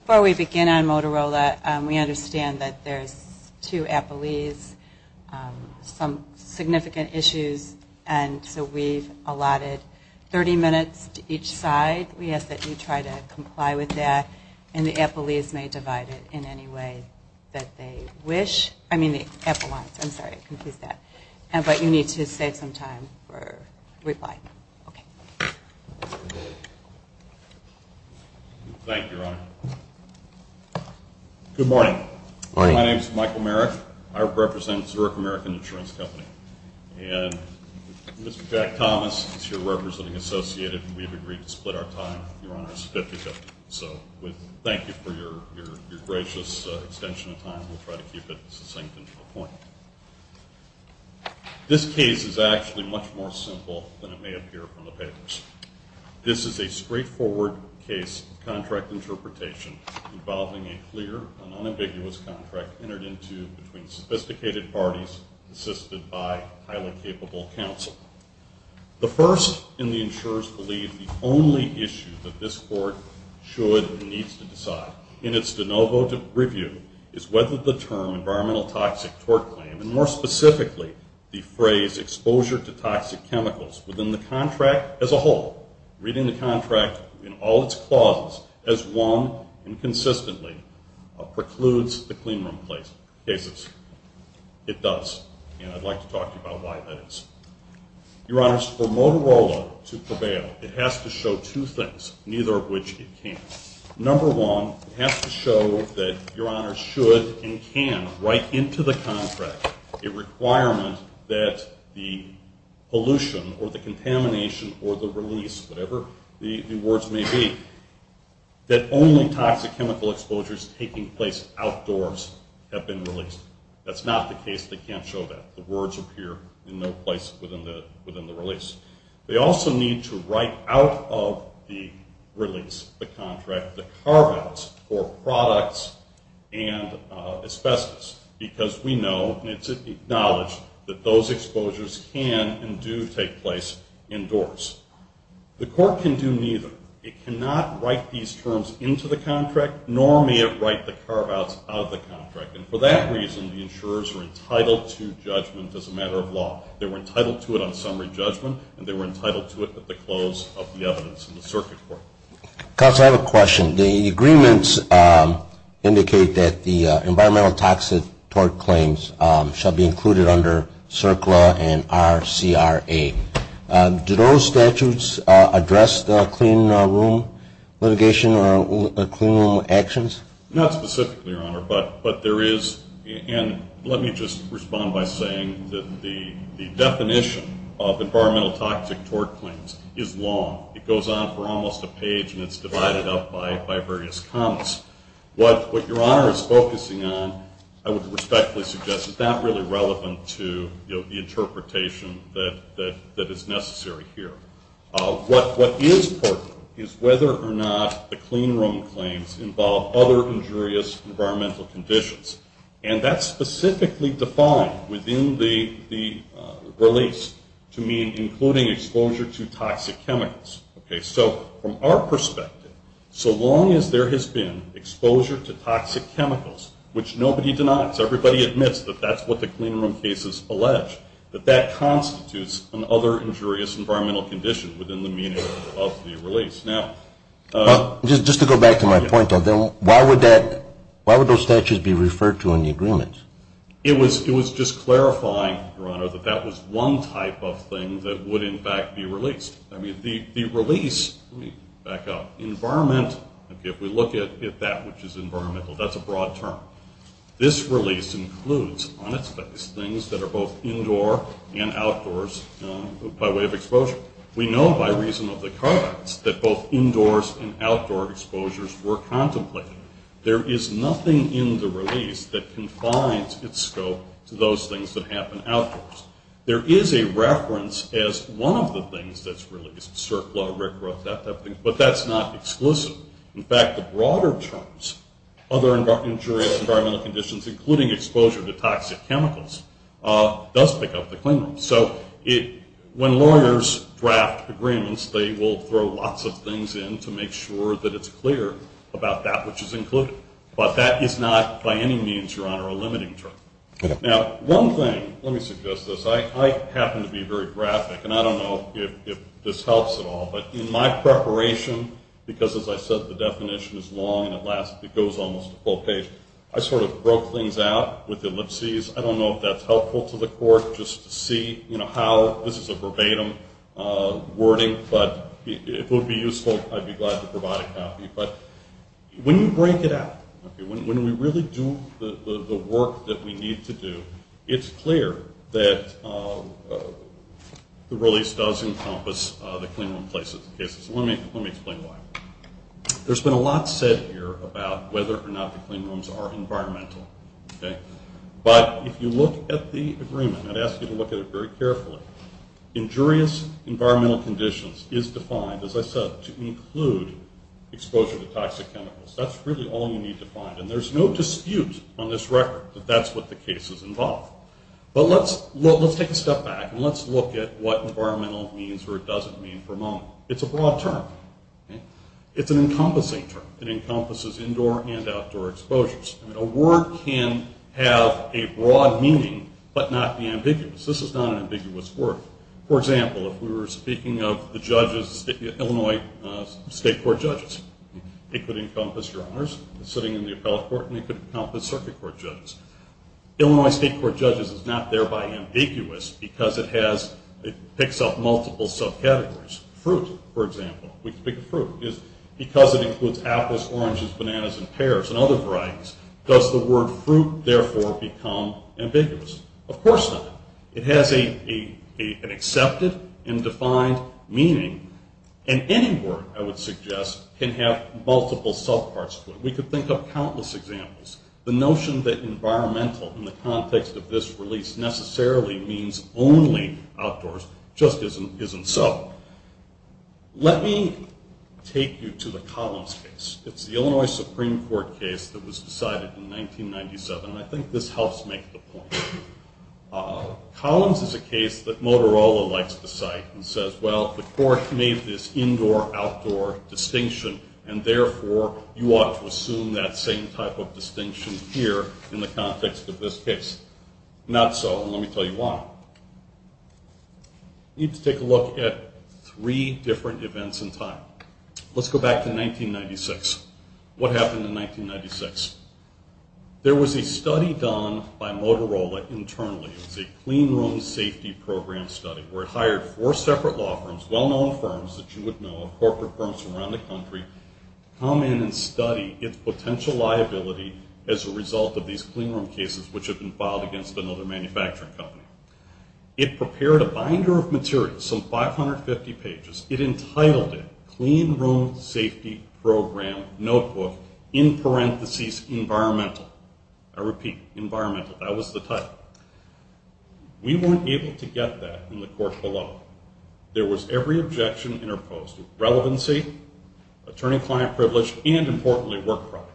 Before we begin on Motorola, we understand that there's two appellees, some significant issues, and so we've allotted 30 minutes to each side. We ask that you try to comply with that, and the appellees may divide it in any way that they wish. I mean the appellants. I'm sorry, I confused that. But you need to save some time for reply. Okay. Thank you, Your Honor. Good morning. My name is Michael Merrick. I represent Zurich American Insurance Company. And Mr. Jack Thomas is here representing Associated. We've agreed to split our time, Your Honor, as a 50-50. So we thank you for your gracious extension of time. We'll try to keep it succinct and to the point. This case is actually much more simple than it may appear from the papers. This is a straightforward case of contract interpretation involving a clear and unambiguous contract entered into between sophisticated parties assisted by highly capable counsel. The first and the insurers believe the only issue that this court should and needs to decide in its de novo review is whether the term environmental toxic tort claim, and more specifically the phrase exposure to toxic chemicals within the contract as a whole, reading the contract in all its clauses, as one and consistently precludes the cleanroom cases. It does. And I'd like to talk to you about why that is. Your Honors, for Motorola to prevail, it has to show two things, neither of which it can't. Number one, it has to show that Your Honors should and can write into the contract a requirement that the pollution or the contamination or the release, whatever the words may be, that only toxic chemical exposures taking place outdoors have been released. That's not the case. They can't show that. The words appear in no place within the release. They also need to write out of the release, the contract, the carve-outs for products and asbestos, because we know and it's acknowledged that those exposures can and do take place indoors. The court can do neither. It cannot write these terms into the contract, nor may it write the carve-outs out of the contract. And for that reason, the insurers are entitled to judgment as a matter of law. They were entitled to it on summary judgment, and they were entitled to it at the close of the evidence in the circuit court. Counsel, I have a question. The agreements indicate that the environmental toxic tort claims shall be included under CERCLA and RCRA. Do those statutes address the clean room litigation or clean room actions? Not specifically, Your Honor, but there is, and let me just respond by saying that the definition of environmental toxic tort claims is long. It goes on for almost a page, and it's divided up by various comments. What Your Honor is focusing on, I would respectfully suggest, is not really relevant to the interpretation that is necessary here. What is important is whether or not the clean room claims involve other injurious environmental conditions. And that's specifically defined within the release to mean including exposure to toxic chemicals. Okay, so from our perspective, so long as there has been exposure to toxic chemicals, which nobody denies, everybody admits that that's what the clean room cases allege, that that constitutes an other injurious environmental condition within the meaning of the release. Just to go back to my point, though, why would those statutes be referred to in the agreements? It was just clarifying, Your Honor, that that was one type of thing that would, in fact, be released. I mean, the release, let me back up, environment, if we look at that which is environmental, that's a broad term. This release includes on its face things that are both indoor and outdoors by way of exposure. We know by reason of the card acts that both indoors and outdoor exposures were contemplated. There is nothing in the release that confines its scope to those things that happen outdoors. There is a reference as one of the things that's released, surflow, rickrowth, that type of thing, but that's not exclusive. In fact, the broader terms, other injurious environmental conditions, including exposure to toxic chemicals, does pick up the clean room. So when lawyers draft agreements, they will throw lots of things in to make sure that it's clear about that which is included. But that is not, by any means, Your Honor, a limiting term. Now, one thing, let me suggest this, I happen to be very graphic, and I don't know if this helps at all, but in my preparation, because as I said, the definition is long and it goes almost to full page, I sort of broke things out with ellipses. I don't know if that's helpful to the court, just to see how this is a verbatim wording, but if it would be useful, I'd be glad to provide a copy. But when you break it out, when we really do the work that we need to do, it's clear that the release does encompass the clean room cases. Let me explain why. There's been a lot said here about whether or not the clean rooms are environmental. But if you look at the agreement, I'd ask you to look at it very carefully, injurious environmental conditions is defined, as I said, to include exposure to toxic chemicals. That's really all you need to find. And there's no dispute on this record that that's what the cases involve. But let's take a step back and let's look at what environmental means or doesn't mean for a moment. It's a broad term. It's an encompassing term. It encompasses indoor and outdoor exposures. A word can have a broad meaning but not be ambiguous. This is not an ambiguous word. For example, if we were speaking of the judges, Illinois state court judges, it could encompass your honors sitting in the appellate court, and it could encompass circuit court judges. Illinois state court judges is not thereby ambiguous because it picks up multiple subcategories. Fruit, for example. Because it includes apples, oranges, bananas, and pears and other varieties, does the word fruit therefore become ambiguous? Of course not. It has an accepted and defined meaning, and any word, I would suggest, can have multiple subparts. We could think of countless examples. The notion that environmental in the context of this release necessarily means only outdoors just isn't so. Let me take you to the Collins case. It's the Illinois Supreme Court case that was decided in 1997, and I think this helps make the point. Collins is a case that Motorola likes to cite and says, well, the court made this indoor-outdoor distinction, and therefore you ought to assume that same type of distinction here in the context of this case. Not so, and let me tell you why. We need to take a look at three different events in time. Let's go back to 1996. What happened in 1996? There was a study done by Motorola internally. It was a clean room safety program study where it hired four separate law firms, well-known firms that you would know, corporate firms from around the country, come in and study its potential liability as a result of these clean room cases which had been filed against another manufacturing company. It prepared a binder of materials, some 550 pages. It entitled it Clean Room Safety Program Notebook, in parentheses, Environmental. I repeat, Environmental. That was the title. We weren't able to get that in the court below. There was every objection interposed, relevancy, attorney-client privilege, and importantly, work product.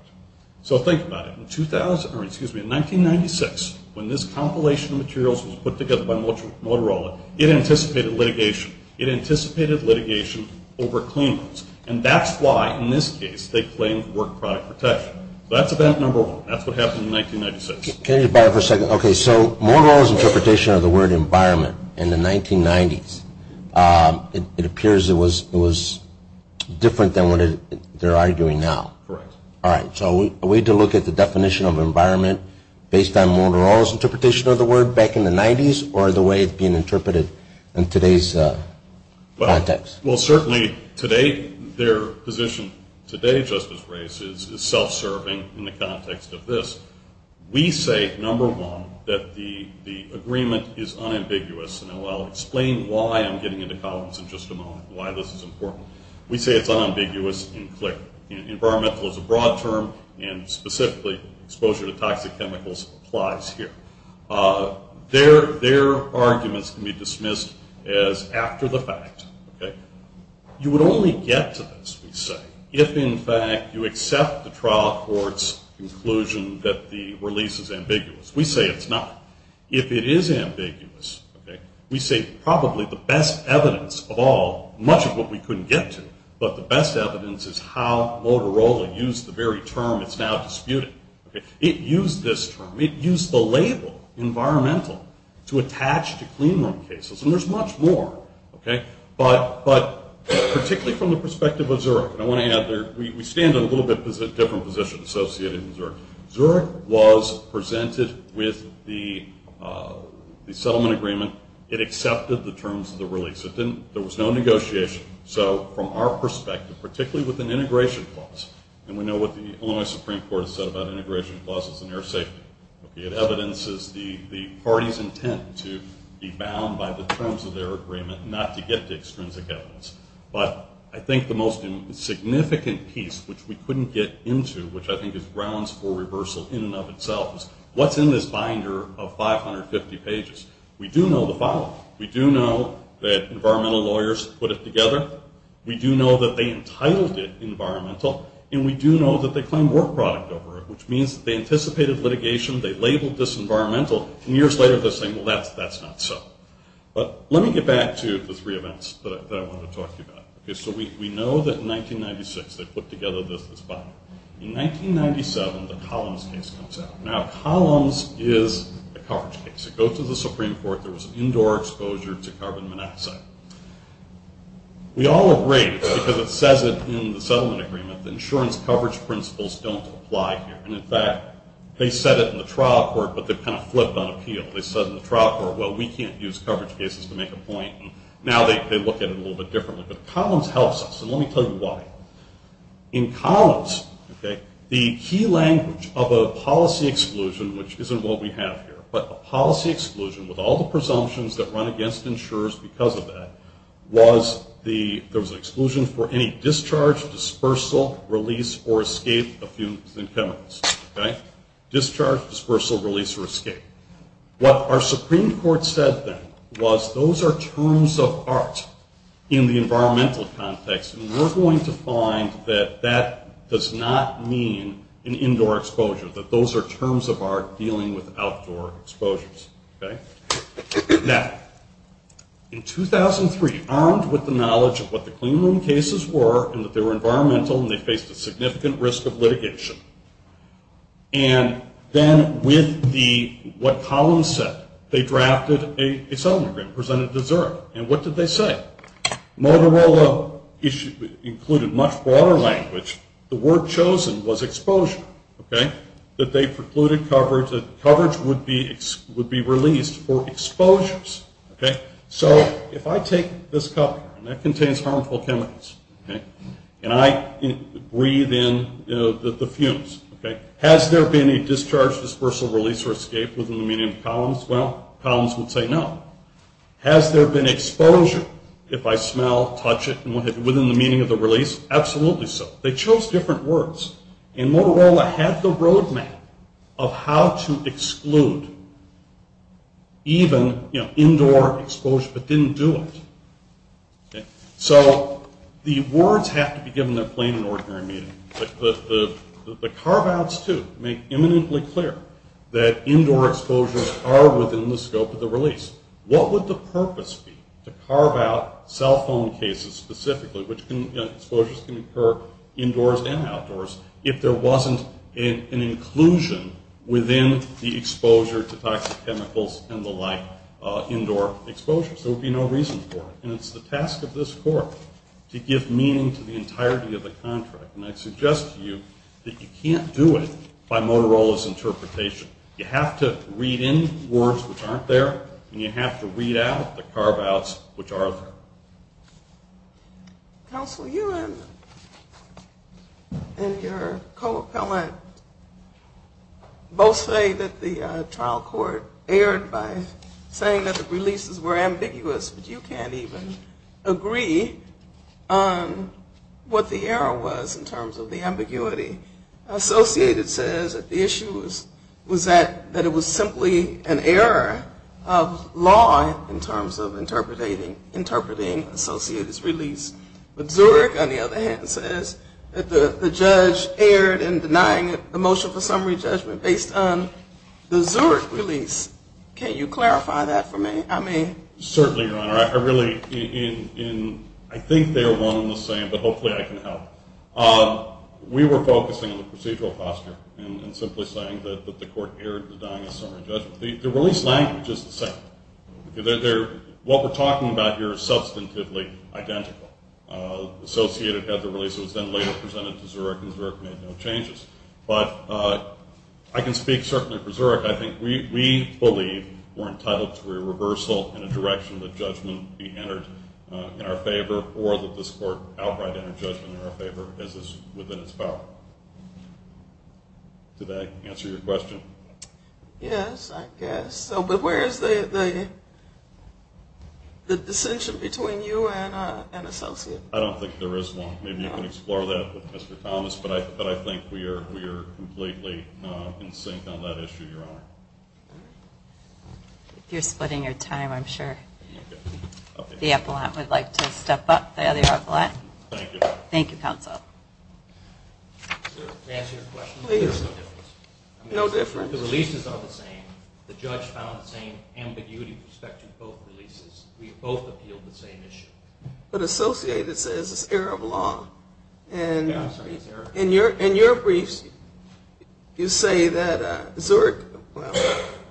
So think about it. In 1996, when this compilation of materials was put together by Motorola, it anticipated litigation. It anticipated litigation over clean rooms, and that's why, in this case, they claimed work product protection. That's event number one. That's what happened in 1996. Can I interrupt for a second? Okay, so Motorola's interpretation of the word environment in the 1990s, it appears it was different than what they're arguing now. Correct. All right. So a way to look at the definition of environment based on Motorola's interpretation of the word back in the 90s or the way it's being interpreted in today's context? Well, certainly, their position today, Justice Reyes, is self-serving in the context of this. We say, number one, that the agreement is unambiguous, and I'll explain why I'm getting into columns in just a moment, why this is important. We say it's unambiguous and clear. Environmental is a broad term, and specifically, exposure to toxic chemicals applies here. Their arguments can be dismissed as after the fact. You would only get to this, we say, if, in fact, you accept the trial court's conclusion that the release is ambiguous. We say it's not. If it is ambiguous, we say probably the best evidence of all, much of what we couldn't get to, but the best evidence is how Motorola used the very term it's now disputing. It used this term. It used the label environmental to attach to clean room cases, and there's much more. But particularly from the perspective of Zurich, and I want to add there, Zurich was presented with the settlement agreement. It accepted the terms of the release. There was no negotiation. So from our perspective, particularly with an integration clause, and we know what the Illinois Supreme Court has said about integration clauses and air safety. It evidences the party's intent to be bound by the terms of their agreement, not to get to extrinsic evidence. But I think the most significant piece, which we couldn't get into, which I think is grounds for reversal in and of itself, is what's in this binder of 550 pages. We do know the following. We do know that environmental lawyers put it together. We do know that they entitled it environmental, and we do know that they claim work product over it, which means that they anticipated litigation. They labeled this environmental, and years later they're saying, well, that's not so. But let me get back to the three events that I wanted to talk to you about. So we know that in 1996 they put together this binder. In 1997, the Collins case comes out. Now, Collins is a coverage case. It goes to the Supreme Court. There was an indoor exposure to carbon monoxide. We all agree, because it says it in the settlement agreement, that insurance coverage principles don't apply here. And, in fact, they said it in the trial court, but they've kind of flipped on appeal. They said in the trial court, well, we can't use coverage cases to make a point. Now they look at it a little bit differently. But Collins helps us, and let me tell you why. In Collins, the key language of a policy exclusion, which isn't what we have here, but a policy exclusion with all the presumptions that run against insurers because of that, was there was an exclusion for any discharge, dispersal, release, or escape of fumes and chemicals. Discharge, dispersal, release, or escape. What our Supreme Court said then was those are terms of art in the environmental context, and we're going to find that that does not mean an indoor exposure, that those are terms of art dealing with outdoor exposures. Now, in 2003, armed with the knowledge of what the clean room cases were and that they were environmental and they faced a significant risk of litigation, and then with what Collins said, they drafted a settlement agreement, presented to Zurich. And what did they say? Motorola included much broader language. The word chosen was exposure, that they precluded coverage, that coverage would be released for exposures. So if I take this cup here, and that contains harmful chemicals, can I breathe in the fumes? Has there been a discharge, dispersal, release, or escape within the meaning of Collins? Well, Collins would say no. Has there been exposure, if I smell, touch it, within the meaning of the release? Absolutely so. They chose different words. And Motorola had the roadmap of how to exclude even indoor exposure, but didn't do it. So the words have to be given in plain and ordinary meaning. The carve-outs, too, make imminently clear that indoor exposures are within the scope of the release. What would the purpose be to carve out cell phone cases specifically, which exposures can occur indoors and outdoors, if there wasn't an inclusion within the exposure to toxic chemicals and the like indoor exposures? There would be no reason for it. And it's the task of this court to give meaning to the entirety of the contract. And I suggest to you that you can't do it by Motorola's interpretation. You have to read in words which aren't there, and you have to read out the carve-outs which are there. Counsel, you and your co-appellant both say that the trial court erred by saying that the releases were ambiguous, but you can't even agree on what the error was in terms of the ambiguity. Associated says that the issue was that it was simply an error of law in terms of interpreting the release. But Zurich, on the other hand, says that the judge erred in denying the motion for summary judgment based on the Zurich release. Can you clarify that for me? Certainly, Your Honor. I think they are one and the same, but hopefully I can help. We were focusing on the procedural posture and simply saying that the court erred in denying the summary judgment. The release language is the same. What we're talking about here is substantively identical. Associated had the release that was then later presented to Zurich, and Zurich made no changes. But I can speak certainly for Zurich. I think we believe we're entitled to a reversal and a direction that judgment be entered in our favor or that this court outright enter judgment in our favor as is within its power. Did that answer your question? Yes, I guess. But where is the distinction between you and Associated? I don't think there is one. Maybe you can explore that with Mr. Thomas. But I think we are completely in sync on that issue, Your Honor. If you're splitting your time, I'm sure the appellant would like to step up, the other appellant. Thank you. Thank you, counsel. To answer your question, there's no difference. No difference? The releases are the same. The judge found the same ambiguity with respect to both releases. We both appealed the same issue. But Associated says it's error of law. Yeah, I'm sorry, it's error of law. In your briefs, you say that Zurich, well,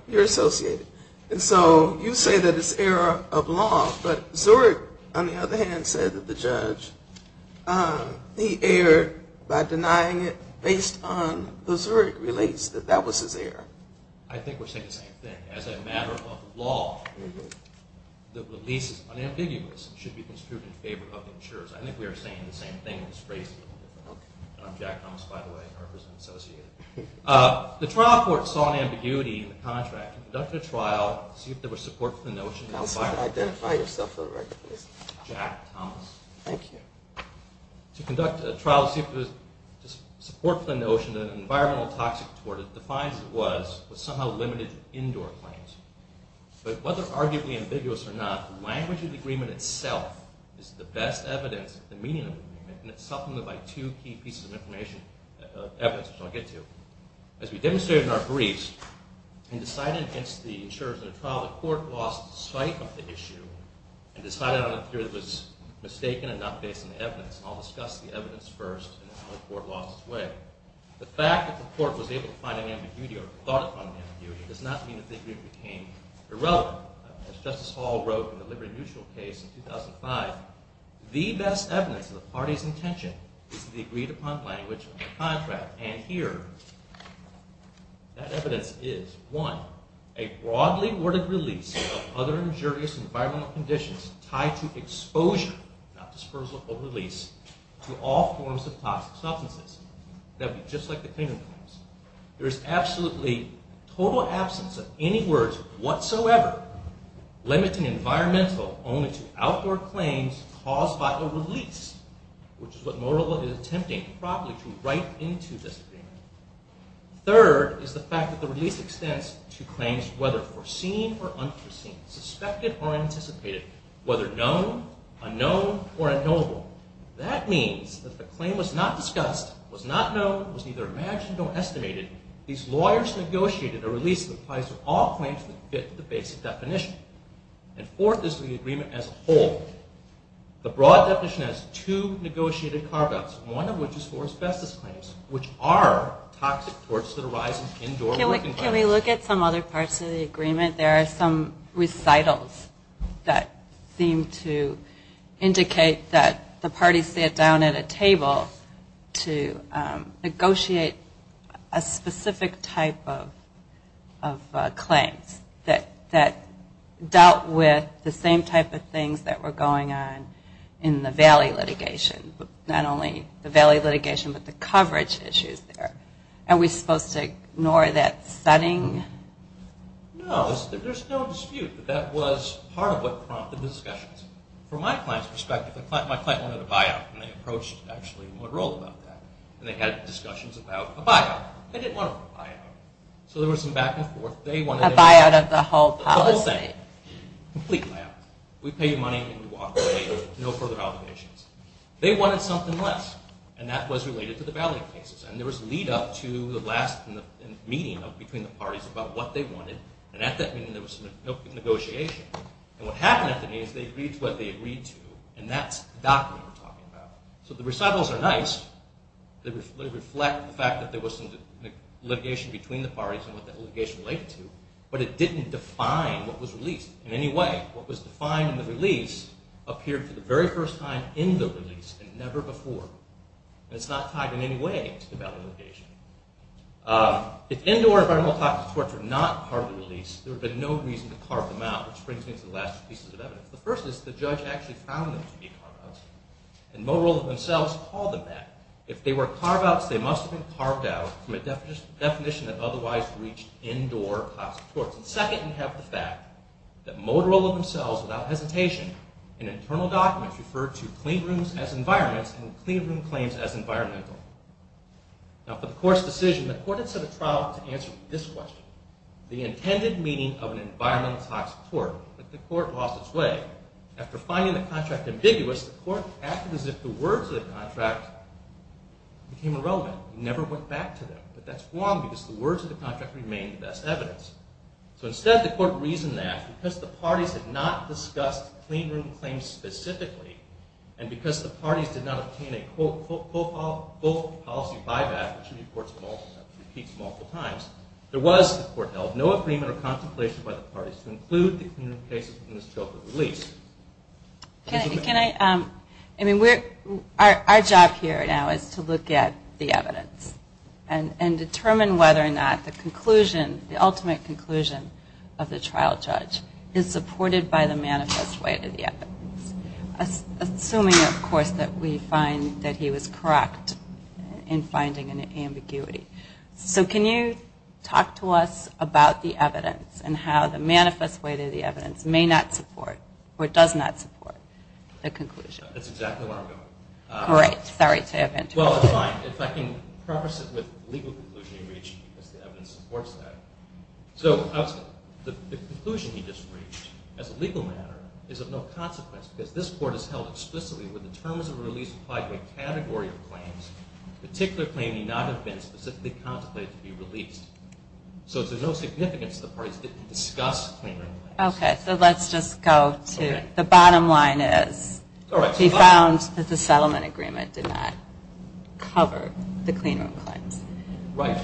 you're Associated. And so you say that it's error of law, but Zurich, on the other hand, said that the judge, he erred by denying it based on the Zurich release, that that was his error. I think we're saying the same thing. As a matter of law, the releases, unambiguous, should be construed in favor of the insurers. I think we are saying the same thing in this case. I'm Jack Thomas, by the way. I represent Associated. The trial court saw an ambiguity in the contract. Conducted a trial to see if there was support for the notion. Counsel, identify yourself for the record, please. Jack Thomas. Thank you. To conduct a trial to see if there was support for the notion, the environmental toxic toward it defines it was, but somehow limited to indoor claims. But whether arguably ambiguous or not, the language of the agreement itself is the best evidence, the meaning of the agreement, and it's supplemented by two key pieces of information, evidence, which I'll get to. As we demonstrated in our briefs, in deciding against the insurers in the trial, the court lost sight of the issue and decided on a theory that was mistaken and not based on evidence. I'll discuss the evidence first and how the court lost its way. The fact that the court was able to find an ambiguity or thought upon an ambiguity does not mean the theory became irrelevant. As Justice Hall wrote in the Liberty Mutual case in 2005, the best evidence of the party's intention is the agreed upon language of the contract. And here, that evidence is, one, a broadly worded release of other injurious environmental conditions tied to exposure, not dispersal or release, to all forms of toxic substances. That would be just like the claimant claims. There is absolutely total absence of any words whatsoever limiting environmental only to outdoor claims caused by a release, which is what Nodal is attempting, probably, to write into this agreement. Third is the fact that the release extends to claims whether foreseen or unforeseen, suspected or anticipated, whether known, unknown, or unknowable. That means that the claim was not discussed, was not known, was neither imagined nor estimated. These lawyers negotiated a release that applies to all claims that fit the basic definition. And fourth is the agreement as a whole. The broad definition has two negotiated carve-outs, one of which is for asbestos claims, which are toxic towards the horizon, indoor, working environments. Can we look at some other parts of the agreement? There are some recitals that seem to indicate that the party sat down at a table to negotiate a specific type of claims that dealt with the same type of things that were going on in the Valley litigation, not only the Valley litigation but the coverage issues there. Are we supposed to ignore that setting? No, there's no dispute that that was part of what prompted the discussions. From my client's perspective, my client wanted a buyout, and they approached actually Monroe about that. And they had discussions about a buyout. They didn't want a buyout. So there was some back and forth. A buyout of the whole policy. The whole thing. Complete buyout. We pay you money and you walk away with no further obligations. They wanted something less, and that was related to the Valley cases. And there was lead up to the last meeting between the parties about what they wanted, and at that meeting there was some negotiation. And what happened at the meeting is they agreed to what they agreed to, and that's the document we're talking about. So the recitals are nice. They reflect the fact that there was some litigation between the parties and what that litigation related to, but it didn't define what was released in any way. What was defined in the release appeared for the very first time in the release and never before. And it's not tied in any way to the Valley litigation. If indoor environmental toxic torts were not part of the release, there would have been no reason to carve them out, which brings me to the last two pieces of evidence. The first is the judge actually found them to be carve-outs, and Motorola themselves called them that. If they were carve-outs, they must have been carved out from a definition that otherwise reached indoor toxic torts. And second, you have the fact that Motorola themselves, without hesitation, in internal documents referred to clean rooms as environments and clean room claims as environmental. Now, for the court's decision, the court had set a trial to answer this question, the intended meaning of an environmental toxic tort. But the court lost its way. After finding the contract ambiguous, the court acted as if the words of the contract became irrelevant. It never went back to them. But that's wrong because the words of the contract remain the best evidence. So instead, the court reasoned that because the parties had not discussed clean room claims specifically, and because the parties did not obtain a full policy buyback, which the court repeats multiple times, there was, the court held, no agreement or contemplation by the parties to include the clean room cases in the scope of the release. Our job here now is to look at the evidence and determine whether or not the conclusion, the ultimate conclusion of the trial judge, is supported by the manifest way to the evidence. Assuming, of course, that we find that he was correct in finding an ambiguity. So can you talk to us about the evidence and how the manifest way to the evidence may not support or does not support the conclusion? That's exactly where I'm going. Great. Sorry to interrupt. Well, it's fine. If I can preface it with the legal conclusion he reached, because the evidence supports that. So the conclusion he just reached, as a legal matter, is of no consequence because this court has held explicitly that when the terms of release apply to a category of claims, a particular claim need not have been specifically contemplated to be released. So it's of no significance that the parties didn't discuss clean room claims. Okay, so let's just go to, the bottom line is, he found that the settlement agreement did not cover the clean room claims. Right.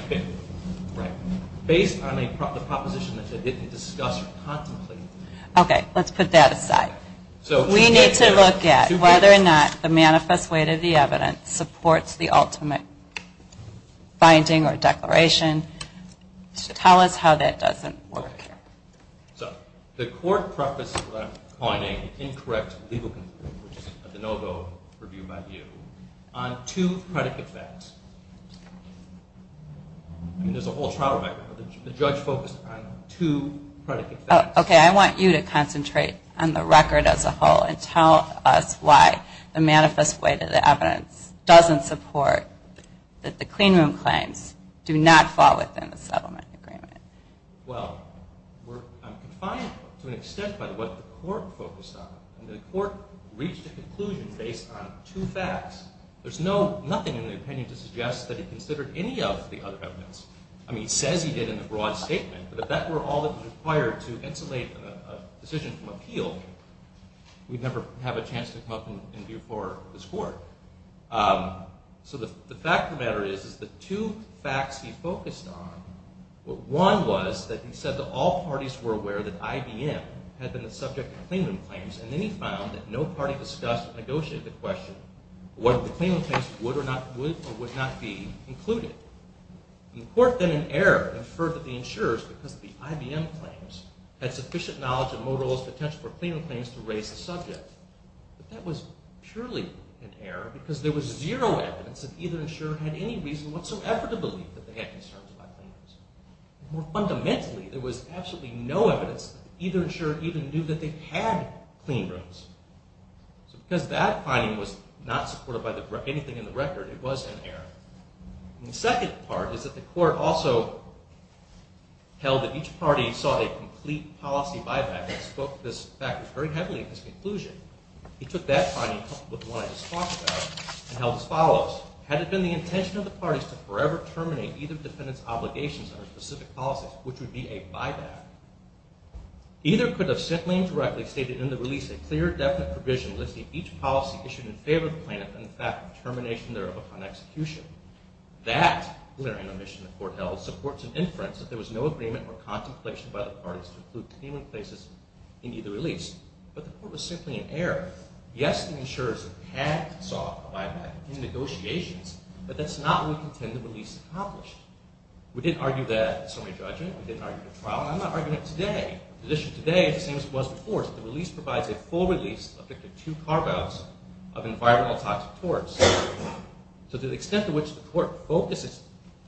Based on the proposition that he didn't discuss or contemplate. Okay, let's put that aside. We need to look at whether or not the manifest way to the evidence supports the ultimate finding or declaration. Tell us how that doesn't work. So, the court prefaced the finding, incorrect legal conclusion, which is a de novo review by you, on two predicate facts. I mean, there's a whole trial record, but the judge focused on two predicate facts. Okay, I want you to concentrate on the record as a whole and tell us why the manifest way to the evidence doesn't support that the clean room claims do not fall within the settlement agreement. Well, I'm confined to an extent by what the court focused on. The court reached a conclusion based on two facts. There's nothing in the opinion to suggest that he considered any of the other evidence. I mean, he says he did in the broad statement, but if that were all that was required to insulate a decision from appeal, we'd never have a chance to come up and view for this court. So the fact of the matter is, is the two facts he focused on, one was that he said that all parties were aware that IBM had been the subject of clean room claims, and then he found that no party discussed or negotiated the question whether the clean room claims would or would not be included. The court then in error inferred that the insurers, because of the IBM claims, had sufficient knowledge of Motorola's potential for clean room claims to raise the subject. But that was purely in error because there was zero evidence that either insurer had any reason whatsoever to believe that they had concerns about clean rooms. More fundamentally, there was absolutely no evidence that either insurer even knew that they had clean rooms. So because that finding was not supported by anything in the record, it was in error. And the second part is that the court also held that each party saw a complete policy buyback, and spoke to this fact very heavily in his conclusion. He took that finding coupled with the one I just talked about and held as follows. Had it been the intention of the parties to forever terminate either defendant's obligations under specific policies, which would be a buyback, either could have simply and directly stated in the release a clear, definite provision listing each policy issued in favor of the plaintiff and the fact of termination thereof upon execution. That, glaring omission the court held, supports an inference that there was no agreement or contemplation by the parties to include clean room places in either release. But the court was simply in error. Yes, the insurers had sought a buyback in negotiations, but that's not what we contend the release accomplished. We didn't argue that in summary judgment. We didn't argue it in trial. And I'm not arguing it today. The issue today is the same as it was before. The release provides a full release, subject to two carve-outs of environmental toxic torts. So to the extent to which the court focused its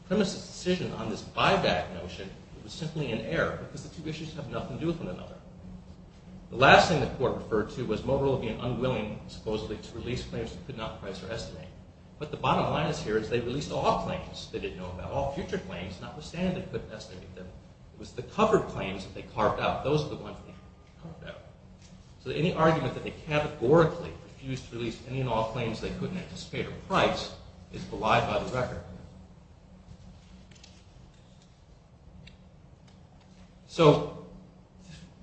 premises decision on this buyback notion, it was simply in error because the two issues have nothing to do with one another. The last thing the court referred to was Motorola being unwilling, supposedly, to release claims it could not price or estimate. But the bottom line is here is they released all claims. They didn't know about all future claims, notwithstanding they couldn't estimate them. It was the covered claims that they carved out. Those are the ones they carved out. So any argument that they categorically refused to release any and all claims they couldn't anticipate or price is belied by the record. So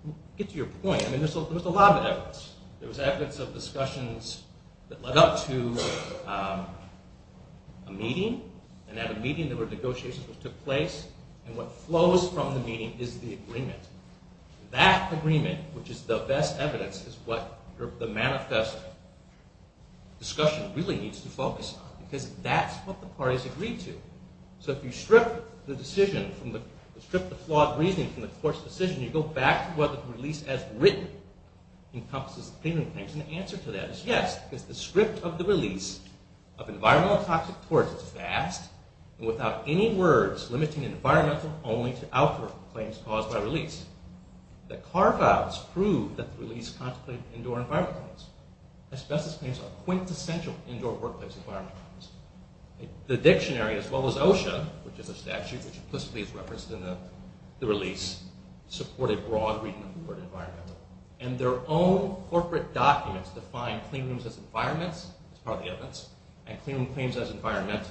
to get to your point, there was a lot of evidence. There was evidence of discussions that led up to a meeting. And at a meeting there were negotiations that took place. And what flows from the meeting is the agreement. That agreement, which is the best evidence, is what the manifest discussion really needs to focus on. Because that's what the parties agreed to. So if you strip the flawed reasoning from the court's decision, you go back to whether the release as written encompasses the premium claims. And the answer to that is yes. Because the script of the release of environmental and toxic torts is vast and without any words limiting environmental only to outdoor claims caused by release. The carve-outs prove that the release contemplated indoor environmental claims. Asbestos claims are quintessential indoor workplace environmental claims. The dictionary, as well as OSHA, which is a statute which implicitly is referenced in the release, supported broad reading of the word environmental. And their own corporate documents define cleanrooms as environments, as part of the evidence, and cleanroom claims as environmental.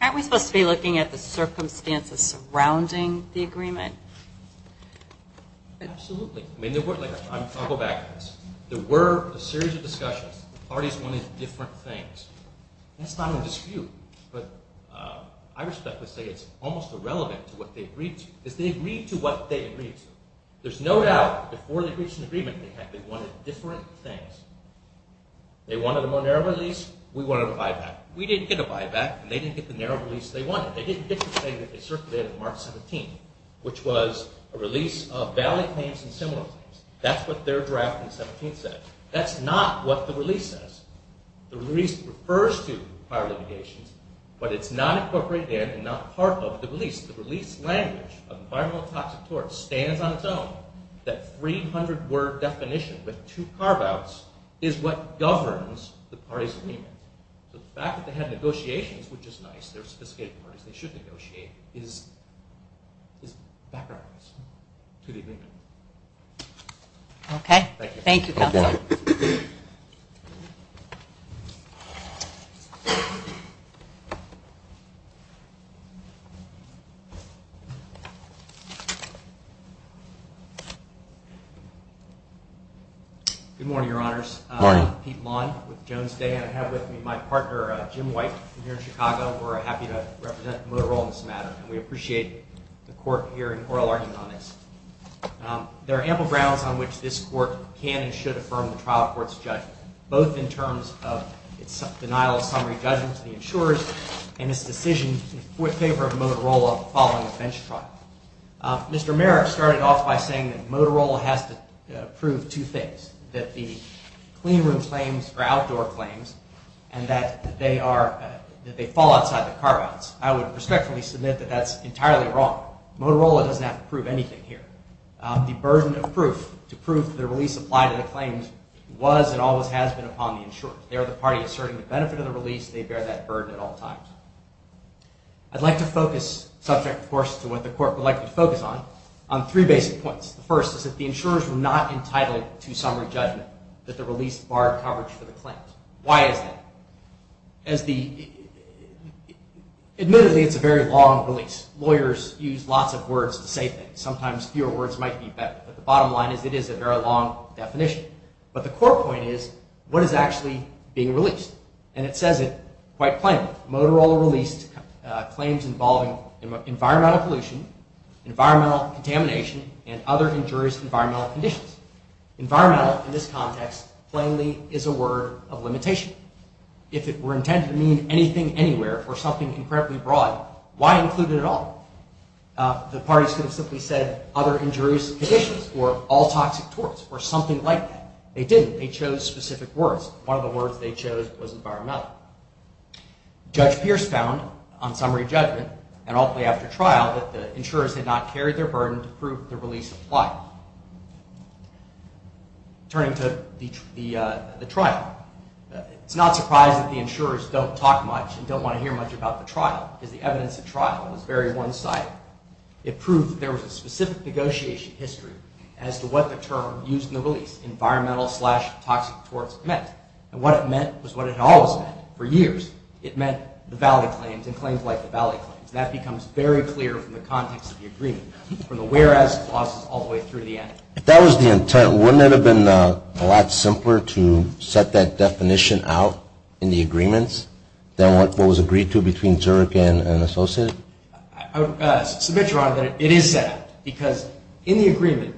Aren't we supposed to be looking at the circumstances surrounding the agreement? Absolutely. I'll go back to this. There were a series of discussions. The parties wanted different things. That's not in dispute. But I respectfully say it's almost irrelevant to what they agreed to. Because they agreed to what they agreed to. There's no doubt that before they reached an agreement, they wanted different things. They wanted a more narrow release. We wanted a buyback. We didn't get a buyback, and they didn't get the narrow release they wanted. They didn't get the thing that they circulated on March 17th, which was a release of valley claims and similar claims. That's what their draft on the 17th said. That's not what the release says. The release refers to prior litigation, but it's not incorporated in and not part of the release. The release language of environmental and toxic tort stands on its own. That 300-word definition with two carve-outs is what governs the party's agreement. The fact that they had negotiations, which is nice. They're sophisticated parties. They should negotiate. Is background noise. Good evening. Thank you. Thank you, Counselor. Good morning, Your Honors. Good morning. Pete Lawn with Jones Day. I have with me my partner, Jim White, here in Chicago. We're happy to represent Motorola in this matter, and we appreciate the Court here in oral argument on this. There are ample grounds on which this Court can and should affirm the trial court's judgment, both in terms of its denial of summary judgment to the insurers and its decision in favor of Motorola following a bench trial. Mr. Merrick started off by saying that Motorola has to prove two things, that the cleanroom claims are outdoor claims and that they fall outside the carve-outs. I would respectfully submit that that's entirely wrong. Motorola doesn't have to prove anything here. The burden of proof to prove the release applied to the claims was and always has been upon the insurers. They are the party asserting the benefit of the release. They bear that burden at all times. I'd like to focus, subject, of course, to what the Court would like me to focus on, on three basic points. The first is that the insurers were not entitled to summary judgment, that the release barred coverage for the claims. Why is that? Admittedly, it's a very long release. Lawyers use lots of words to say things. Sometimes fewer words might be better, but the bottom line is it is a very long definition. But the core point is, what is actually being released? And it says it quite plainly. Motorola released claims involving environmental pollution, environmental contamination, and other injurious environmental conditions. Environmental, in this context, plainly is a word of limitation. If it were intended to mean anything, anywhere, or something incredibly broad, why include it at all? The parties could have simply said other injurious conditions or all toxic torts or something like that. They didn't. They chose specific words. One of the words they chose was environmental. Judge Pierce found on summary judgment, and ultimately after trial, that the insurers had not carried their burden to prove the release applied. Turning to the trial, it's not a surprise that the insurers don't talk much and don't want to hear much about the trial. Because the evidence at trial is very one-sided. It proved that there was a specific negotiation history as to what the term used in the release, environmental slash toxic torts, meant. And what it meant was what it had always meant. For years, it meant the valley claims and claims like the valley claims. That becomes very clear from the context of the agreement, from the whereas clauses all the way through to the end. If that was the intent, wouldn't it have been a lot simpler to set that definition out in the agreements than what was agreed to between Zurich and Associated? I submit, Your Honor, that it is set out. Because in the agreement,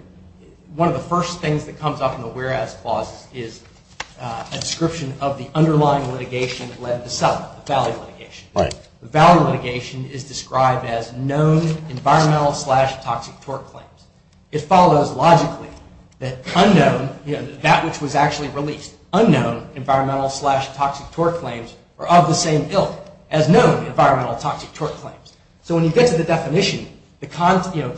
one of the first things that comes up in the whereas clauses is a description of the underlying litigation that led to settlement, the valley litigation. Right. The valley litigation is described as known environmental slash toxic tort claims. It follows logically that unknown, that which was actually released, unknown environmental slash toxic tort claims are of the same ilk as known environmental toxic tort claims. So when you get to the definition, to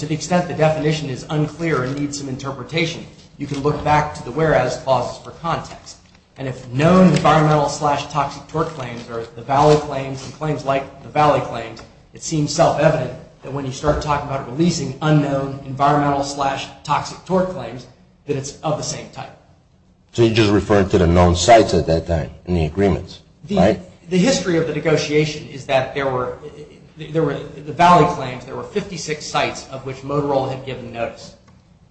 the extent the definition is unclear and needs some interpretation, you can look back to the whereas clauses for context. And if known environmental slash toxic tort claims or the valley claims and claims like the valley claims, it seems self-evident that when you start talking about releasing unknown environmental slash toxic tort claims, that it's of the same type. So you're just referring to the known sites at that time in the agreements, right? The history of the negotiation is that there were, the valley claims, there were 56 sites of which Motorola had given notice.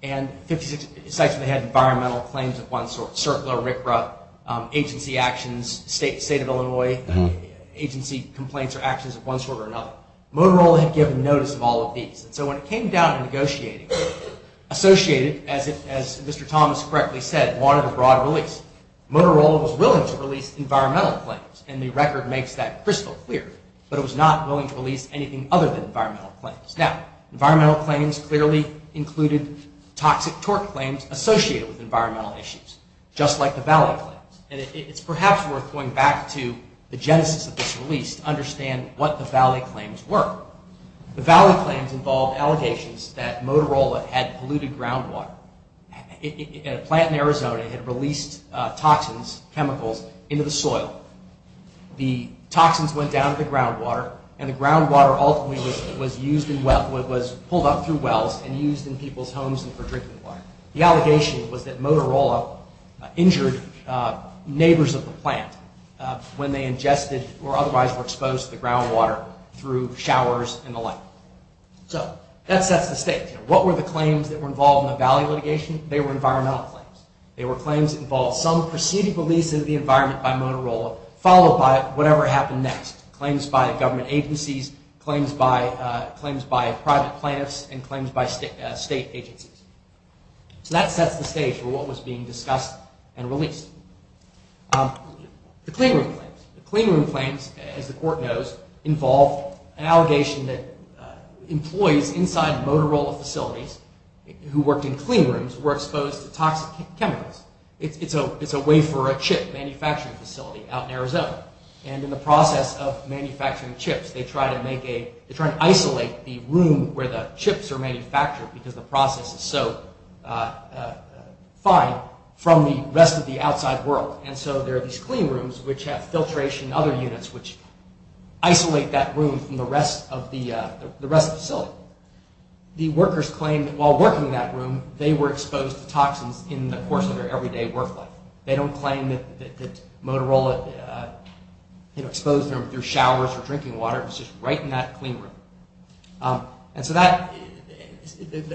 And 56 sites that had environmental claims of one sort, CERCLA, RCRA, agency actions, State of Illinois, agency complaints or actions of one sort or another. Motorola had given notice of all of these. And so when it came down to negotiating, associated, as Mr. Thomas correctly said, wanted a broad release, Motorola was willing to release environmental claims. And the record makes that crystal clear. But it was not willing to release anything other than environmental claims. Now, environmental claims clearly included toxic tort claims associated with environmental issues, just like the valley claims. And it's perhaps worth going back to the genesis of this release to understand what the valley claims were. The valley claims involved allegations that Motorola had polluted groundwater. A plant in Arizona had released toxins, chemicals, into the soil. The toxins went down to the groundwater, and the groundwater ultimately was used in, was pulled up through wells and used in people's homes for drinking water. The allegation was that Motorola injured neighbors of the plant when they ingested or otherwise were exposed to the groundwater through showers and the like. So that sets the stage. What were the claims that were involved in the valley litigation? They were environmental claims. They were claims that involved some preceding release of the environment by Motorola, followed by whatever happened next, claims by government agencies, claims by private plaintiffs, and claims by state agencies. So that sets the stage for what was being discussed and released. The cleanroom claims. The cleanroom claims, as the court knows, involved an allegation that employees inside Motorola facilities who worked in cleanrooms were exposed to toxic chemicals. It's a wafer or chip manufacturing facility out in Arizona. And in the process of manufacturing chips, they try to isolate the room where the chips are manufactured because the process is so fine from the rest of the outside world. And so there are these cleanrooms which have filtration and other units which isolate that room from the rest of the facility. The workers claimed that while working in that room, they were exposed to toxins in the course of their everyday work life. They don't claim that Motorola exposed them through showers or drinking water, it was just right in that cleanroom. And so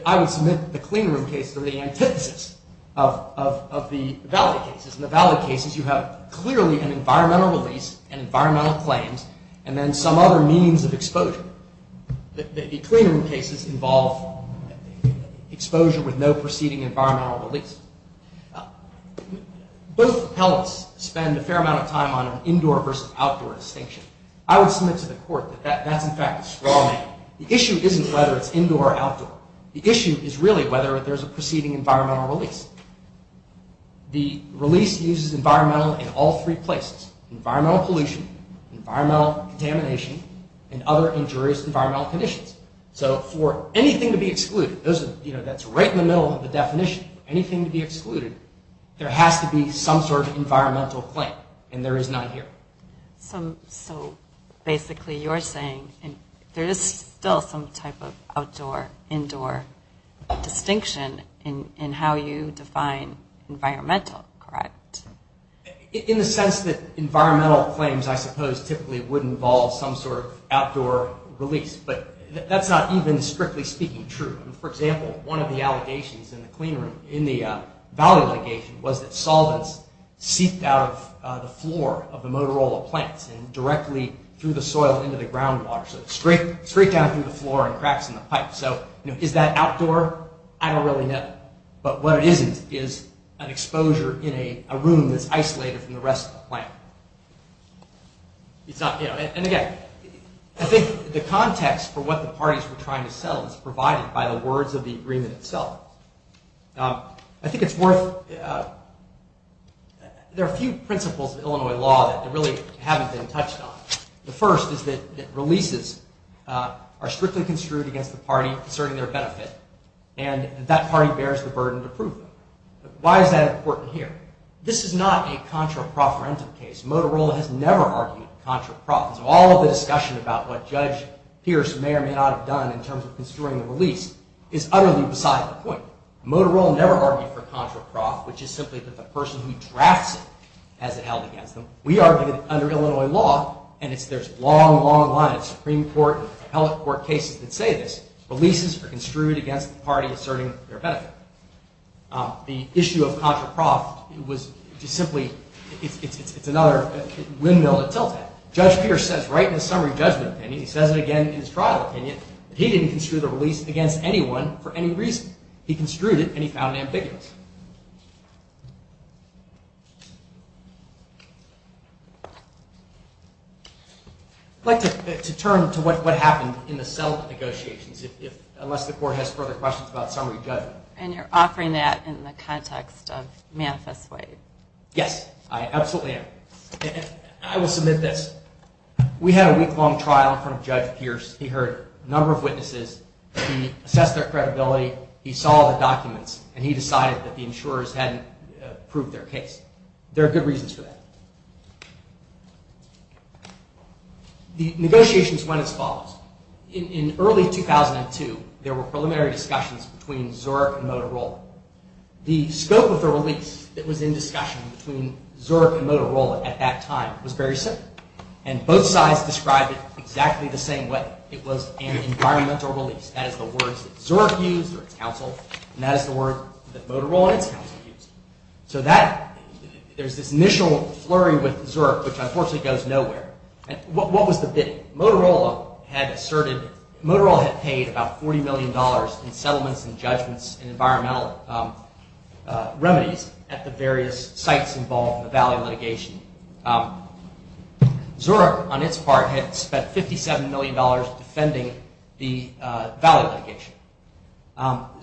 I would submit the cleanroom cases are the antithesis of the valid cases. In the valid cases, you have clearly an environmental release and environmental claims and then some other means of exposure. The cleanroom cases involve exposure with no preceding environmental release. Both appellants spend a fair amount of time on an indoor versus outdoor distinction. I would submit to the court that that's, in fact, a straw man. The issue isn't whether it's indoor or outdoor. The issue is really whether there's a preceding environmental release. The release uses environmental in all three places, environmental pollution, environmental contamination, and other injurious environmental conditions. So for anything to be excluded, that's right in the middle of the definition, anything to be excluded, there has to be some sort of environmental claim, and there is none here. So basically you're saying there is still some type of outdoor-indoor distinction in how you define environmental, correct? In the sense that environmental claims, I suppose, typically would involve some sort of outdoor release, but that's not even strictly speaking true. For example, one of the allegations in the cleanroom, in the valid allegation, was that solvents seeped out of the floor of the Motorola plants and directly through the soil into the groundwater. So it's straight down through the floor and cracks in the pipe. So is that outdoor? I don't really know. But what it isn't is an exposure in a room that's isolated from the rest of the plant. And again, I think the context for what the parties were trying to sell is provided by the words of the agreement itself. I think it's worth... There are a few principles of Illinois law that really haven't been touched on. The first is that releases are strictly construed against the party concerning their benefit, and that party bears the burden to prove them. Why is that important here? This is not a contra-proferentum case. Motorola has never argued contra-prof. So all of the discussion about what Judge Pierce may or may not have done in terms of construing the release is utterly beside the point. Motorola never argued for contra-prof, which is simply that the person who drafts it has it held against them. We argued it under Illinois law, and there's a long, long line of Supreme Court and appellate court cases that say this. Releases are construed against the party asserting their benefit. The issue of contra-prof was just simply... It's another windmill to tilt at. Judge Pierce says right in his summary judgment opinion, and he says it again in his trial opinion, that he didn't construe the release against anyone for any reason. He construed it, and he found it ambiguous. I'd like to turn to what happened in the settlement negotiations, unless the court has further questions about summary judgment. And you're offering that in the context of Manifest Way. Yes, I absolutely am. I will submit this. We had a week-long trial in front of Judge Pierce. He heard a number of witnesses. He assessed their credibility. He saw the documents, and he decided that the insurers hadn't proved their case. There are good reasons for that. The negotiations went as follows. In early 2002, there were preliminary discussions The scope of the release that was in discussion between Zurich and Motorola at that time was very simple. And both sides described it exactly the same way. It was an environmental release. That is the words that Zurich used, or its counsel, and that is the words that Motorola and its counsel used. So there's this initial flurry with Zurich, which unfortunately goes nowhere. What was the bidding? Motorola had paid about $40 million in settlements and judgments and environmental remedies at the various sites involved in the Valley litigation. Zurich, on its part, had spent $57 million defending the Valley litigation.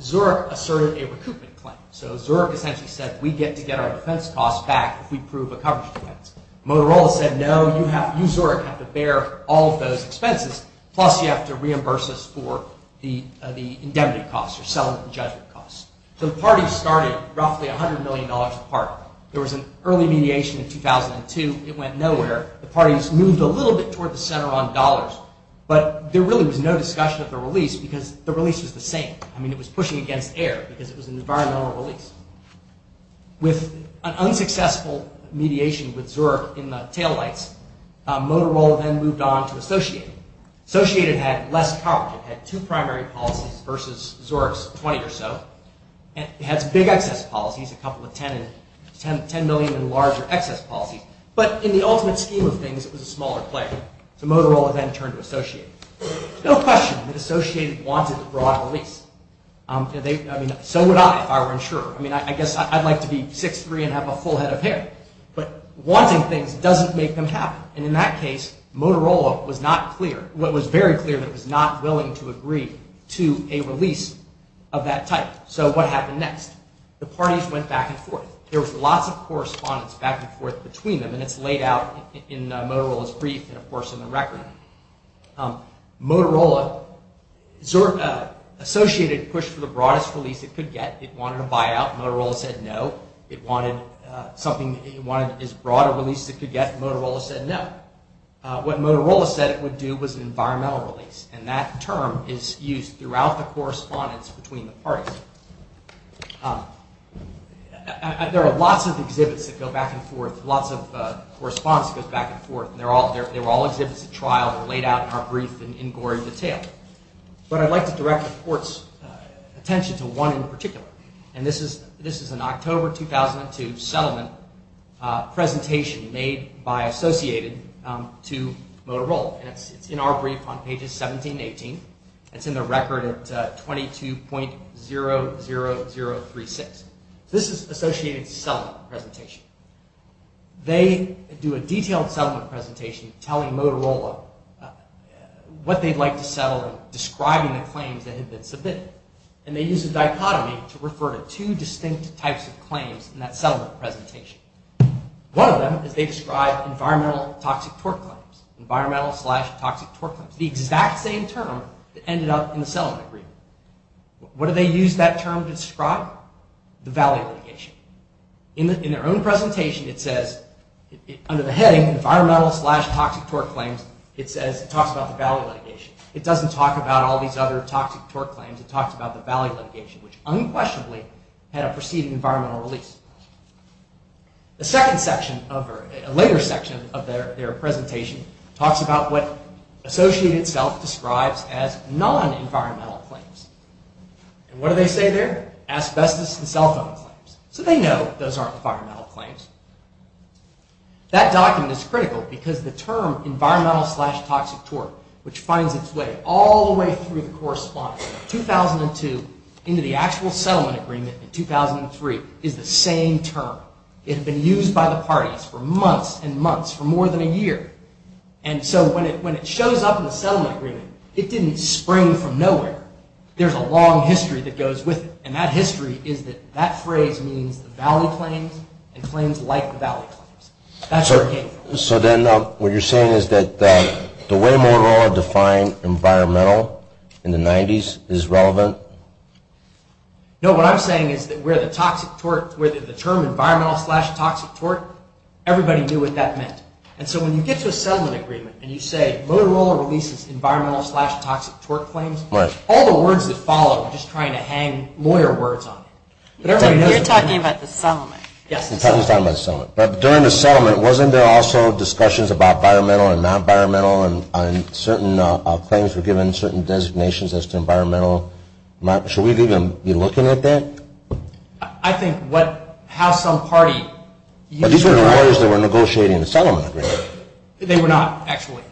Zurich asserted a recoupment claim. So Zurich essentially said, we get to get our defense costs back if we prove a coverage defense. Motorola said, no, you Zurich have to bear all of those expenses, plus you have to reimburse us for the indemnity costs, or settlement and judgment costs. The parties started roughly $100 million apart. There was an early mediation in 2002. It went nowhere. The parties moved a little bit toward the center on dollars, but there really was no discussion of the release because the release was the same. I mean, it was pushing against air because it was an environmental release. With an unsuccessful mediation with Zurich in the taillights, Motorola then moved on to Associated. Associated had less coverage. It had two primary policies versus Zurich's 20 or so. It has big excess policies, a couple of $10 million in larger excess policies. But in the ultimate scheme of things, it was a smaller player. So Motorola then turned to Associated. No question that Associated wanted a broad release. I mean, so would I if I were insurer. I mean, I guess I'd like to be 6'3 and have a full head of hair. But wanting things doesn't make them happen. And in that case, Motorola was not clear, was not willing to agree to a release of that type. So what happened next? The parties went back and forth. There was lots of correspondence back and forth between them, and it's laid out in Motorola's brief and, of course, in the record. Motorola, Associated pushed for the broadest release it could get. It wanted a buyout. Motorola said no. It wanted something, it wanted as broad a release as it could get. Motorola said no. What Motorola said it would do was an environmental release. And that term is used throughout the correspondence between the parties. There are lots of exhibits that go back and forth, lots of correspondence that goes back and forth. They were all exhibits at trial that were laid out in our brief in gory detail. But I'd like to direct the Court's attention to one in particular. And this is an October 2002 settlement presentation made by Associated to Motorola. And it's in our brief on pages 17 and 18. It's in the record at 22.00036. This is Associated's settlement presentation. They do a detailed settlement presentation telling Motorola what they'd like to settle and describing the claims that had been submitted. And they use a dichotomy to refer to two distinct types of claims in that settlement presentation. One of them is they describe environmental toxic torque claims, environmental slash toxic torque claims. The exact same term that ended up in the settlement agreement. What do they use that term to describe? The value litigation. In their own presentation it says, under the heading environmental slash toxic torque claims, it talks about the value litigation. It doesn't talk about all these other toxic torque claims. It talks about the value litigation, which unquestionably had a preceding environmental release. A later section of their presentation talks about what Associated itself describes as non-environmental claims. And what do they say there? Asbestos and cell phone claims. So they know those aren't environmental claims. That document is critical because the term environmental slash toxic torque, which finds its way all the way through the correspondence from 2002 into the actual settlement agreement in 2003 is the same term. It had been used by the parties for months and months, for more than a year. And so when it shows up in the settlement agreement, it didn't spring from nowhere. There's a long history that goes with it. And that history is that that phrase means the valley claims and claims like the valley claims. That's what it came from. So then what you're saying is that the way Motorola defined environmental in the 90s is relevant? No, what I'm saying is that where the term environmental slash toxic torque, everybody knew what that meant. And so when you get to a settlement agreement and you say Motorola releases environmental slash toxic torque claims, all the words that follow are just trying to hang lawyer words on it. You're talking about the settlement. Yes, the settlement. But during the settlement, wasn't there also discussions about environmental and non-environmental and certain claims were given certain designations as to environmental? Should we be looking at that? I think how some party used it. These were the lawyers that were negotiating the settlement agreement. They were not, actually.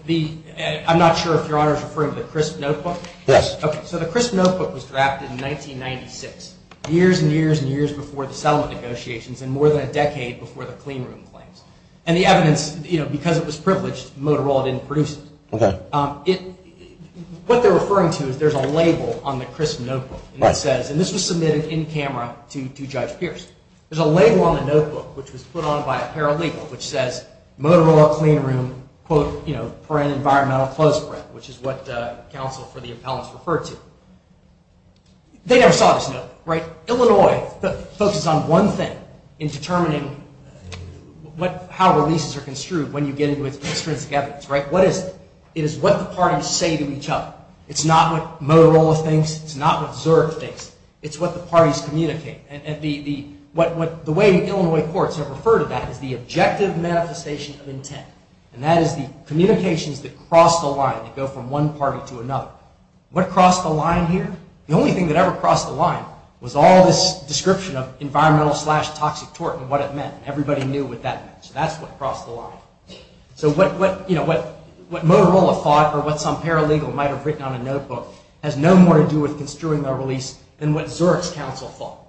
I'm not sure if Your Honor is referring to the Crisp Notebook. Yes. So the Crisp Notebook was drafted in 1996, years and years and years before the settlement negotiations and more than a decade before the cleanroom claims. And the evidence, because it was privileged, Motorola didn't produce it. What they're referring to is there's a label on the Crisp Notebook that says, and this was submitted in camera to Judge Pierce, there's a label on the notebook which was put on by a paralegal which says, Motorola cleanroom, quote, you know, for an environmental close grant, which is what counsel for the appellants referred to. They never saw this note, right? Illinois focuses on one thing in determining how releases are construed when you get into its extrinsic evidence, right? What is it? It is what the parties say to each other. It's not what Motorola thinks. It's not what Zurich thinks. It's what the parties communicate. And the way Illinois courts have referred to that is the objective manifestation of intent. And that is the communications that cross the line, that go from one party to another. What crossed the line here? The only thing that ever crossed the line was all this description of environmental slash toxic tort and what it meant. Everybody knew what that meant. So that's what crossed the line. So what, you know, what Motorola thought or what some paralegal might have written on a notebook has no more to do with construing a release than what Zurich's counsel thought.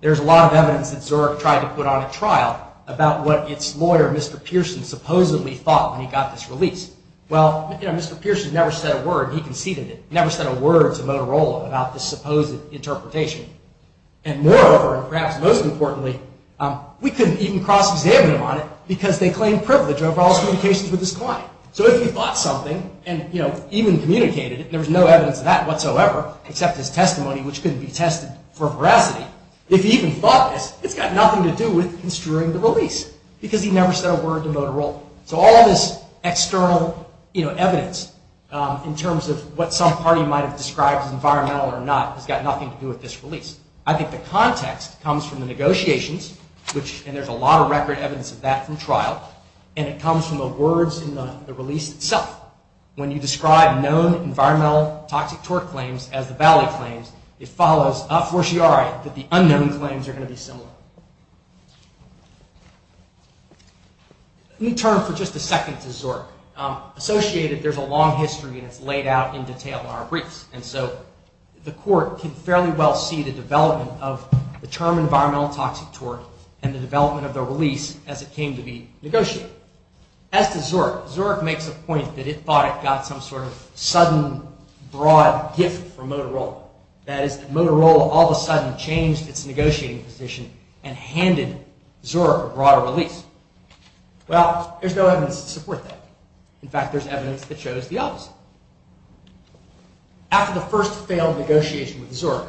There's a lot of evidence that Zurich tried to put on a trial about what its lawyer, Mr. Pearson, supposedly thought when he got this release. Well, you know, Mr. Pearson never said a word. He conceded it. He never said a word to Motorola about this supposed interpretation. And moreover, and perhaps most importantly, we couldn't even cross-examine him on it because they claimed privilege over all his communications with his client. So if he thought something and, you know, even communicated it, there was no evidence of that whatsoever, except his testimony, which couldn't be tested for veracity. If he even thought this, it's got nothing to do with construing the release because he never said a word to Motorola. So all of this external, you know, evidence in terms of what some party might have described as environmental or not has got nothing to do with this release. I think the context comes from the negotiations, and there's a lot of record evidence of that from trial, and it comes from the words in the release itself. When you describe known environmental toxic torque claims as the valley claims, it follows a fortiori that the unknown claims are going to be similar. Let me turn for just a second to Zurich. Associated, there's a long history, and it's laid out in detail in our briefs. And so the court can fairly well see the development of the term environmental toxic torque and the development of the release as it came to be negotiated. As to Zurich, Zurich makes a point that it thought it got some sort of sudden, broad gift from Motorola. That is, that Motorola all of a sudden changed its negotiating position and handed Zurich a broader release. Well, there's no evidence to support that. In fact, there's evidence that shows the opposite. After the first failed negotiation with Zurich,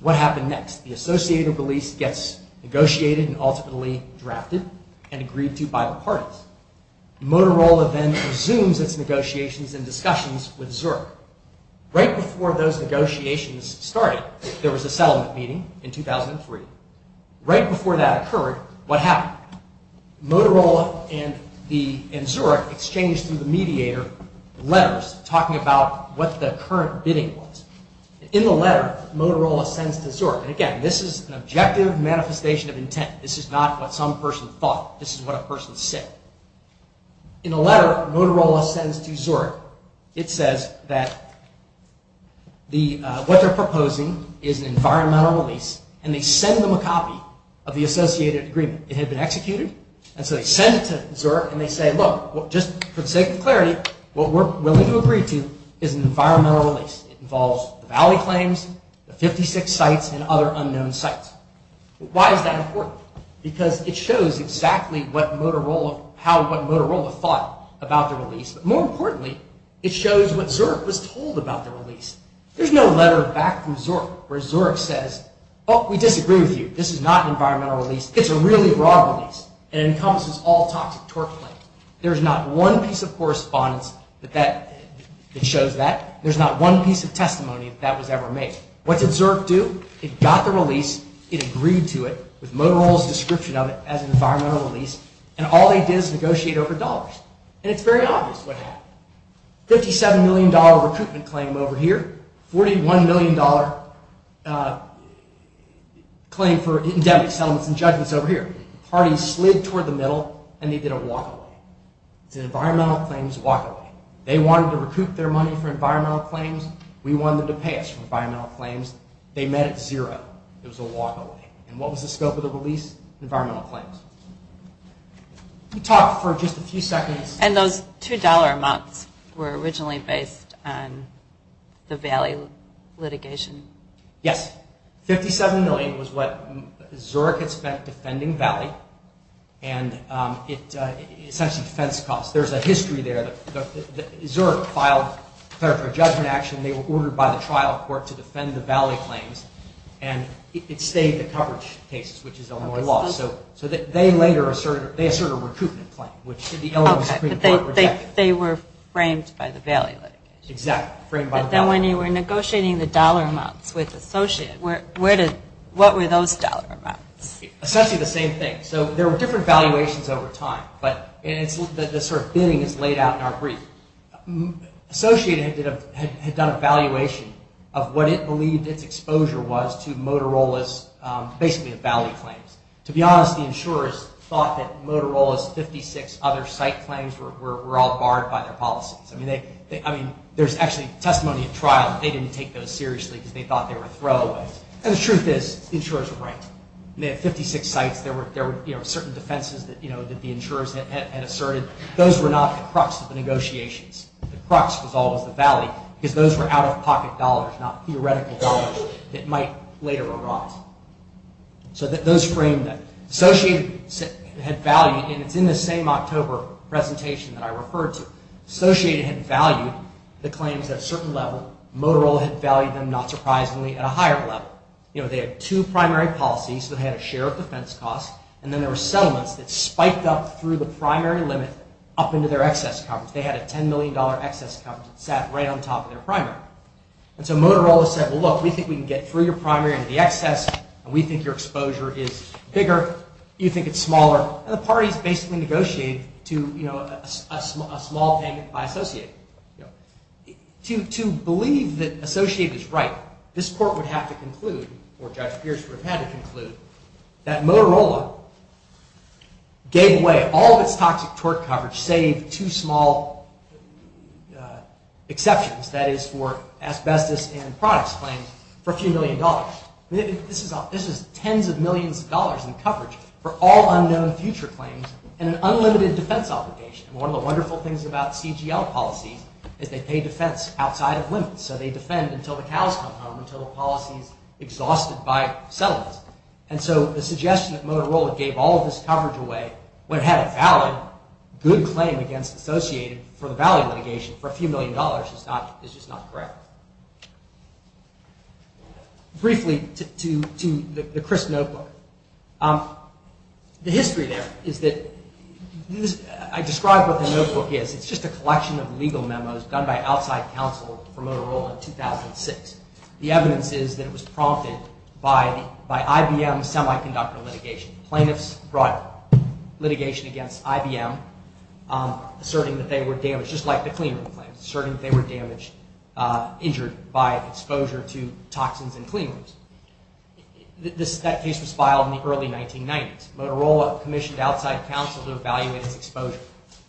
what happened next? The Associated release gets negotiated and ultimately drafted and agreed to by the parties. Motorola then resumes its negotiations and discussions with Zurich. Right before those negotiations started, there was a settlement meeting in 2003. Right before that occurred, what happened? Motorola and Zurich exchanged through the mediator letters talking about what the current bidding was. In the letter, Motorola sends to Zurich, and again, this is an objective manifestation of intent. This is not what some person thought. This is what a person said. In the letter, Motorola sends to Zurich, it says that what they're proposing is an environmental release, and they send them a copy of the Associated agreement. It had been executed, and so they send it to Zurich, and they say, look, just for the sake of clarity, what we're willing to agree to is an environmental release. It involves the Valley claims, the 56 sites, and other unknown sites. Why is that important? Because it shows exactly what Motorola thought about the release, but more importantly, it shows what Zurich was told about the release. There's no letter back from Zurich where Zurich says, oh, we disagree with you. This is not an environmental release. It's a really broad release, and it encompasses all toxic torque claims. There's not one piece of correspondence that shows that. There's not one piece of testimony that that was ever made. What did Zurich do? It got the release. It agreed to it with Motorola's description of it as an environmental release, and all they did is negotiate over dollars, and it's very obvious what happened. $57 million recruitment claim over here, $41 million claim for endemic settlements and judgments over here. The parties slid toward the middle, and they did a walk-away. It's an environmental claims walk-away. They wanted to recoup their money for environmental claims. We wanted them to pay us for environmental claims. They met at zero. It was a walk-away. And what was the scope of the release? Environmental claims. We talked for just a few seconds. And those $2 amounts were originally based on the Valley litigation? Yes. $57 million was what Zurich had spent defending Valley, and essentially defense costs. There's a history there. Zurich filed for a judgment action. They were ordered by the trial court to defend the Valley claims, and it stayed the coverage cases, which is Illinois law. So they later asserted a recruitment claim, which the Illinois Supreme Court rejected. Okay, but they were framed by the Valley litigation. Exactly, framed by the Valley litigation. When you were negotiating the dollar amounts with Associated, what were those dollar amounts? Essentially the same thing. So there were different valuations over time, but the sort of bidding is laid out in our brief. Associated had done a valuation of what it believed its exposure was to Motorola's, basically, the Valley claims. To be honest, the insurers thought that Motorola's 56 other site claims were all barred by their policies. There's actually testimony at trial that they didn't take those seriously because they thought they were throwaways. And the truth is, the insurers were right. They had 56 sites. There were certain defenses that the insurers had asserted. Those were not the crux of the negotiations. The crux was always the Valley because those were out-of-pocket dollars, not theoretical dollars that might later erode. So those framed that. Associated had valued, and it's in the same October presentation that I referred to, Associated had valued the claims at a certain level. Motorola had valued them, not surprisingly, at a higher level. They had two primary policies that had a share of defense costs, and then there were settlements that spiked up through the primary limit up into their excess coverage. They had a $10 million excess coverage that sat right on top of their primary. And so Motorola said, well, look, we think we can get through your primary into the excess, and we think your exposure is bigger. You think it's smaller. And the parties basically negotiated a small payment by Associated. To believe that Associated is right, this court would have to conclude, or Judge Pierce would have had to conclude, that Motorola gave away all of its toxic tort coverage, save two small exceptions, that is for asbestos and products claims, for a few million dollars. This is tens of millions of dollars in coverage for all unknown future claims and an unlimited defense obligation. One of the wonderful things about CGL policies is they pay defense outside of limits. So they defend until the cows come home, until the policy is exhausted by settlements. And so the suggestion that Motorola gave all of this coverage away, when it had a valid, good claim against Associated, for the value litigation for a few million dollars, is just not correct. Briefly, to the Chris notebook. The history there is that, I described what the notebook is, it's just a collection of legal memos done by outside counsel for Motorola in 2006. The evidence is that it was prompted by IBM's semiconductor litigation. Plaintiffs brought litigation against IBM, asserting that they were damaged, just like the Clean Room claims, asserting that they were damaged, injured by exposure to toxins in Clean Rooms. That case was filed in the early 1990s. Motorola commissioned outside counsel to evaluate its exposure.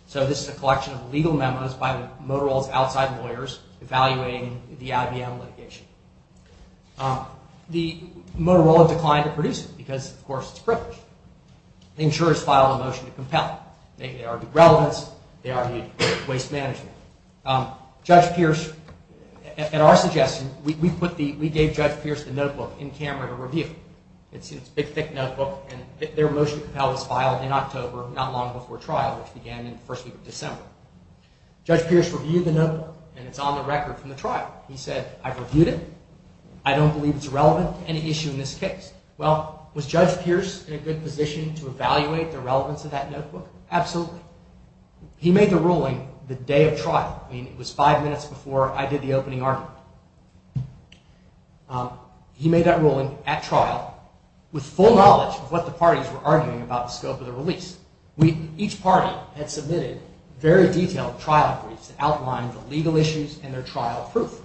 So this is a collection of legal memos by Motorola's outside lawyers evaluating the IBM litigation. Motorola declined to produce it, because, of course, it's privileged. The insurers filed a motion to compel it. They argued relevance, they argued waste management. Judge Pierce, at our suggestion, we gave Judge Pierce the notebook in camera to review. It's a big, thick notebook, and their motion to compel was filed in October, not long before trial, which began in the first week of December. Judge Pierce reviewed the notebook, and it's on the record from the trial. He said, I've reviewed it, I don't believe it's relevant to any issue in this case. Well, was Judge Pierce in a good position to evaluate the relevance of that notebook? Absolutely. He made the ruling the day of trial. I mean, it was five minutes before I did the opening argument. He made that ruling at trial, with full knowledge of what the parties were arguing about the scope of the release. Each party had submitted very detailed trial briefs that outlined the legal issues and their trial proof.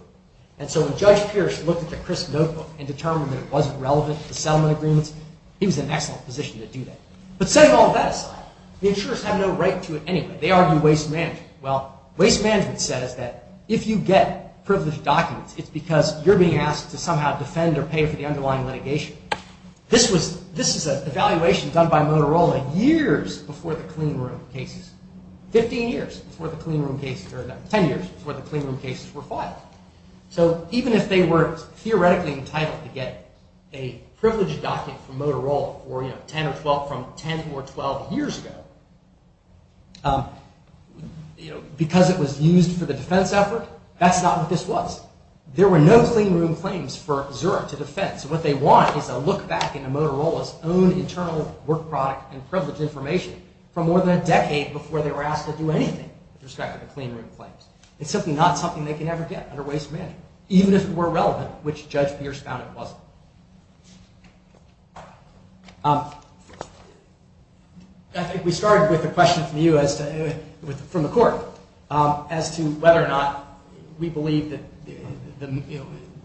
And so when Judge Pierce looked at the crisp notebook and determined that it wasn't relevant to settlement agreements, he was in an excellent position to do that. But setting all that aside, the insurers have no right to it anyway. They argue waste management. Well, waste management says that if you get privileged documents, it's because you're being asked to somehow defend or pay for the underlying litigation. This is an evaluation done by Motorola years before the cleanroom cases. Fifteen years before the cleanroom cases, or ten years before the cleanroom cases were filed. So even if they were theoretically entitled to get a privileged document from Motorola, from 10 or 12 years ago, because it was used for the defense effort, that's not what this was. There were no cleanroom claims for Zurich to defend. So what they want is a look back into Motorola's own internal work product and privileged information from more than a decade before they were asked to do anything with respect to the cleanroom claims. It's simply not something they can ever get under waste management, even if it were relevant, which Judge Pierce found it wasn't. I think we started with a question from you, from the court, as to whether or not we believe that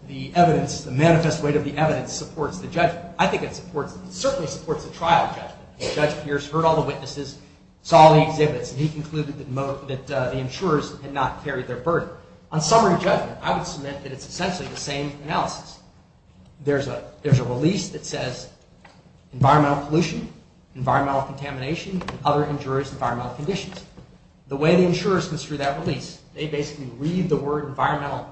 the evidence, the manifest weight of the evidence supports the judgment. I think it certainly supports the trial judgment. Judge Pierce heard all the witnesses, saw all the exhibits, and he concluded that the insurers had not carried their burden. On summary judgment, I would submit that it's essentially the same analysis. There's a release that says environmental pollution, environmental contamination, and other injurious environmental conditions. The way the insurers go through that release, they basically read the word environmental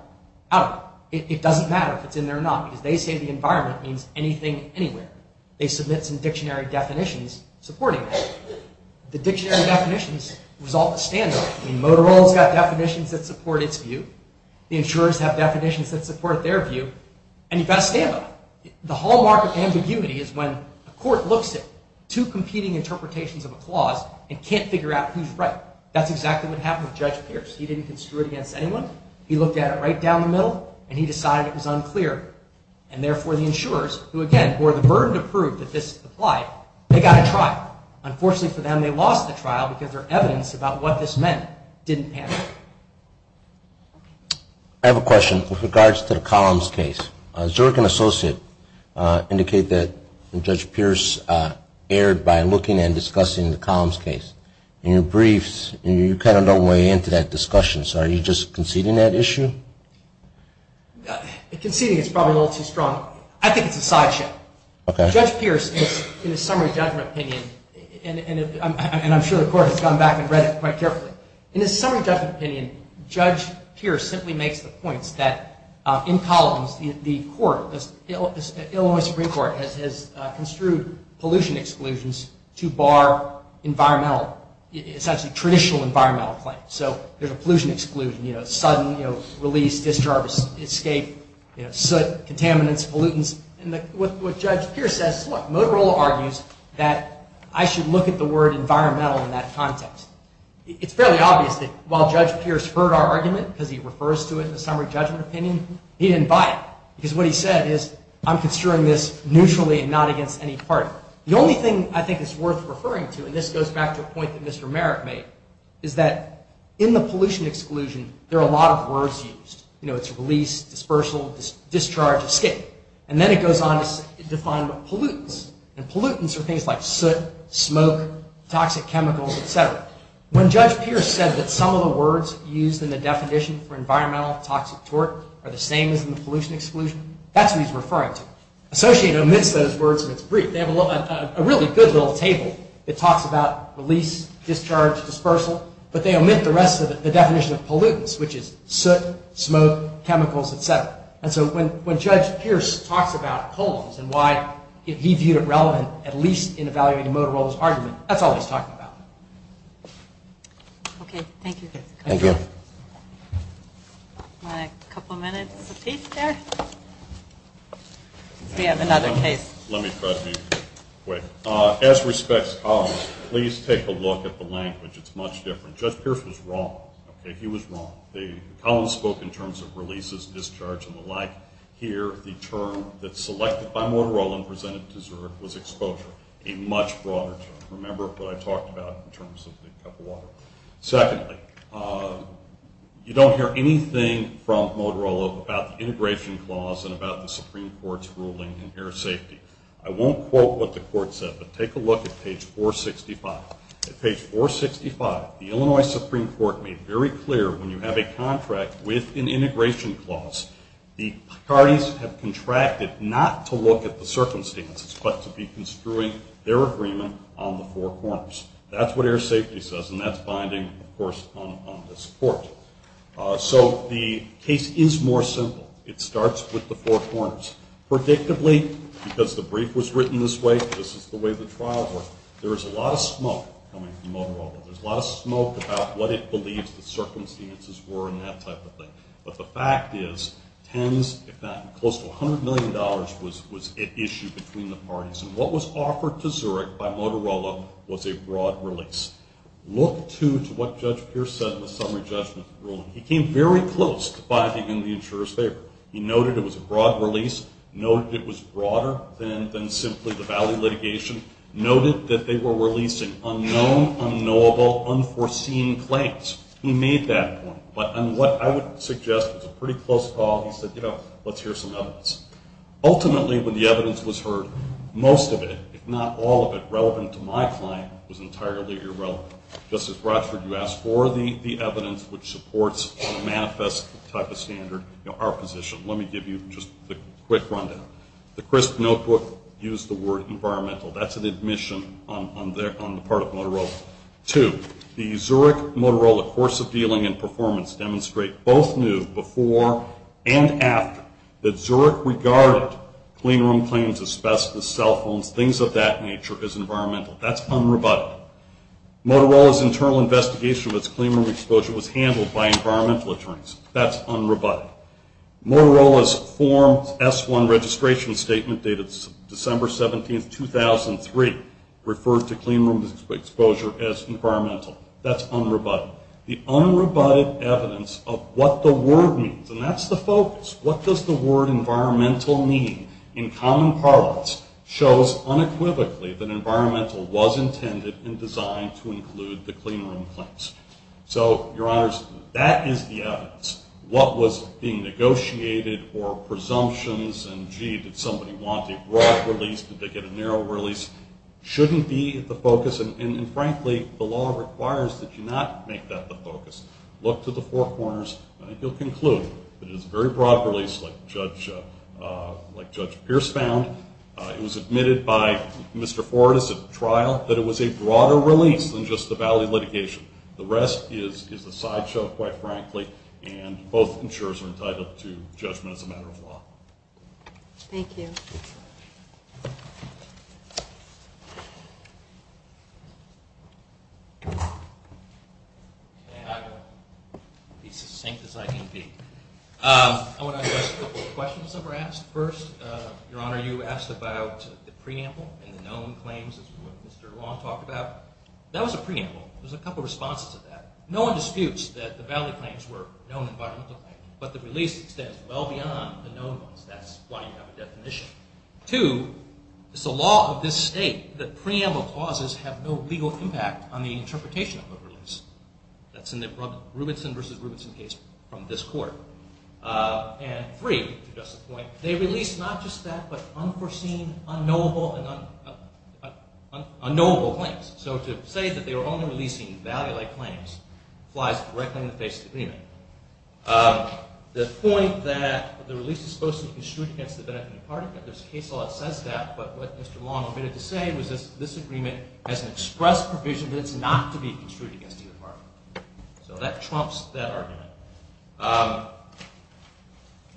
out. It doesn't matter if it's in there or not, because they say the environment means anything, anywhere. They submit some dictionary definitions supporting that. The dictionary definitions resolve the standoff. I mean, Motorola's got definitions that support its view. The insurers have definitions that support their view. And you've got to stand on it. The hallmark of ambiguity is when a court looks at two competing interpretations of a clause and can't figure out who's right. That's exactly what happened with Judge Pierce. He didn't construe it against anyone. He looked at it right down the middle, and he decided it was unclear. And therefore, the insurers, who, again, bore the burden to prove that this applied, they got a trial. Unfortunately for them, they lost the trial because their evidence about what this meant didn't have it. I have a question with regards to the Columns case. Zurich and Associates indicate that Judge Pierce erred by looking and discussing the Columns case. In your briefs, you kind of don't weigh into that discussion. So are you just conceding that issue? Conceding is probably a little too strong. I think it's a sideshow. Okay. Judge Pierce, in his summary judgment opinion, and I'm sure the court has gone back and read it quite carefully, in his summary judgment opinion, Judge Pierce simply makes the points that in Columns, the court, the Illinois Supreme Court, has construed pollution exclusions to bar environmental, essentially traditional environmental claims. So there's a pollution exclusion, sudden release, discharge, escape, soot, contaminants, pollutants. And what Judge Pierce says, look, Motorola argues that I should look at the word environmental in that context. It's fairly obvious that while Judge Pierce heard our argument, because he refers to it in the summary judgment opinion, he didn't buy it. Because what he said is I'm considering this neutrally and not against any party. The only thing I think is worth referring to, and this goes back to a point that Mr. Merrick made, is that in the pollution exclusion, there are a lot of words used. You know, it's release, dispersal, discharge, escape. And then it goes on to define pollutants. And pollutants are things like soot, smoke, toxic chemicals, et cetera. When Judge Pierce said that some of the words used in the definition for environmental toxic tort are the same as in the pollution exclusion, that's what he's referring to. Associate omits those words in its brief. They have a really good little table that talks about release, discharge, dispersal, but they omit the rest of it, the definition of pollutants, which is soot, smoke, chemicals, et cetera. And so when Judge Pierce talks about pollens and why he viewed it relevant, at least in evaluating Motorola's argument, that's all he's talking about. Okay, thank you. Thank you. A couple minutes apiece there. We have another case. Let me try to be quick. As respects to pollens, please take a look at the language. It's much different. Judge Pierce was wrong. Okay, he was wrong. The pollens spoke in terms of releases, discharge, and the like. Here, the term that's selected by Motorola and presented to Zurich was exposure, a much broader term. Remember what I talked about in terms of the cup of water. Secondly, you don't hear anything from Motorola about the integration clause and about the Supreme Court's ruling in air safety. I won't quote what the court said, but take a look at page 465. At page 465, the Illinois Supreme Court made very clear when you have a contract with an integration clause, the parties have contracted not to look at the circumstances but to be construing their agreement on the four corners. That's what air safety says, and that's binding, of course, on this court. So the case is more simple. It starts with the four corners. Predictably, because the brief was written this way, this is the way the trials were, there is a lot of smoke coming from Motorola. There's a lot of smoke about what it believes the circumstances were and that type of thing. But the fact is, close to $100 million was issued between the parties, and what was offered to Zurich by Motorola was a broad release. Look, too, to what Judge Pierce said in the summary judgment ruling. He came very close to biding in the insurer's favor. He noted it was a broad release, noted it was broader than simply the valley litigation, noted that they were releasing unknown, unknowable, unforeseen claims. He made that point. But what I would suggest was a pretty close call. He said, you know, let's hear some evidence. Ultimately, when the evidence was heard, most of it, if not all of it, relevant to my client, was entirely irrelevant. Justice Rochford, you asked for the evidence which supports a manifest type of standard, our position. Let me give you just a quick rundown. The CRISP notebook used the word environmental. That's an admission on the part of Motorola. Two, the Zurich-Motorola course of dealing and performance demonstrate both knew before and after that Zurich regarded cleanroom claims, asbestos, cell phones, things of that nature as environmental. That's unrebutted. Motorola's internal investigation of its cleanroom exposure was handled by environmental attorneys. That's unrebutted. Motorola's form S-1 registration statement dated December 17, 2003 referred to cleanroom exposure as environmental. That's unrebutted. The unrebutted evidence of what the word means, and that's the focus, what does the word environmental mean in common parlance, shows unequivocally that environmental was intended and designed to include the cleanroom claims. So, Your Honors, that is the evidence. What was being negotiated or presumptions, and gee, did somebody want a broad release, did they get a narrow release, shouldn't be the focus, and, frankly, the law requires that you not make that the focus. Look to the four corners and you'll conclude that it is a very broad release like Judge Pierce found. It was admitted by Mr. Fortas at trial that it was a broader release than just a valid litigation. The rest is a sideshow, quite frankly, and both insurers are entitled to judgment as a matter of law. Thank you. Okay, I'm going to be succinct as I can be. I want to address a couple of questions that were asked. First, Your Honor, you asked about the preamble and the known claims, as Mr. Long talked about. That was a preamble. There was a couple of responses to that. No one disputes that the valid claims were known environmental claims, but the release extends well beyond the known ones. That's why you have a definition. Two, it's the law of this state that preamble clauses have no legal impact on the interpretation of a release. That's in the Rubinson v. Rubinson case from this court. And three, to address the point, they release not just that but unforeseen, unknowable claims. So to say that they were only releasing value-like claims flies directly in the face of the agreement. The point that the release is supposed to be construed against the benefit of the party, there's a case law that says that, but what Mr. Long omitted to say was this agreement has an express provision that it's not to be construed against either party. So that trumps that argument.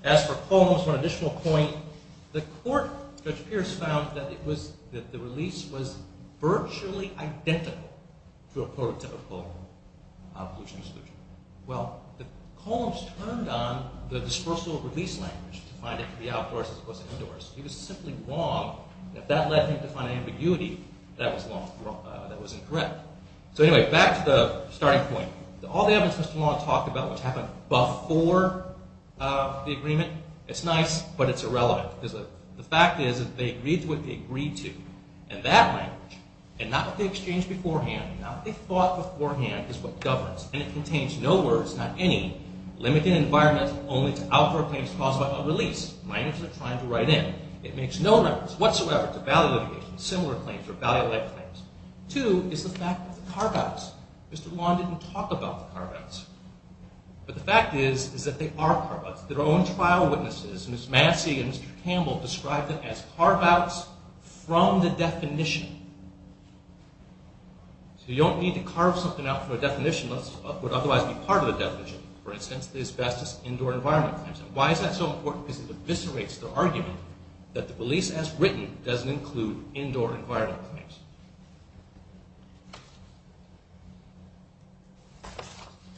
As for columns, one additional point, the court, Judge Pierce found, that the release was virtually identical to a prototypical pollution exclusion. Well, the columns turned on the dispersal release language to find it to be outdoors as opposed to indoors. He was simply wrong. If that led him to find ambiguity, that was incorrect. So anyway, back to the starting point. All the evidence Mr. Long talked about, which happened before the agreement, it's nice, but it's irrelevant. Because the fact is that they agreed to what they agreed to. And that language, and not what they exchanged beforehand, not what they thought beforehand, is what governs. And it contains no words, not any, limited environment only to outdoor claims caused by a release. Minors are trying to write in. It makes no reference whatsoever to valley litigation, similar claims, or valley-led claims. Two is the fact of the carve-outs. Mr. Long didn't talk about the carve-outs. But the fact is that they are carve-outs. Their own trial witnesses, Ms. Massey and Mr. Campbell, described them as carve-outs from the definition. So you don't need to carve something out from a definition that would otherwise be part of the definition. For instance, the asbestos indoor environment claims. Why is that so important? Because it eviscerates the argument that the release as written doesn't include indoor environment claims.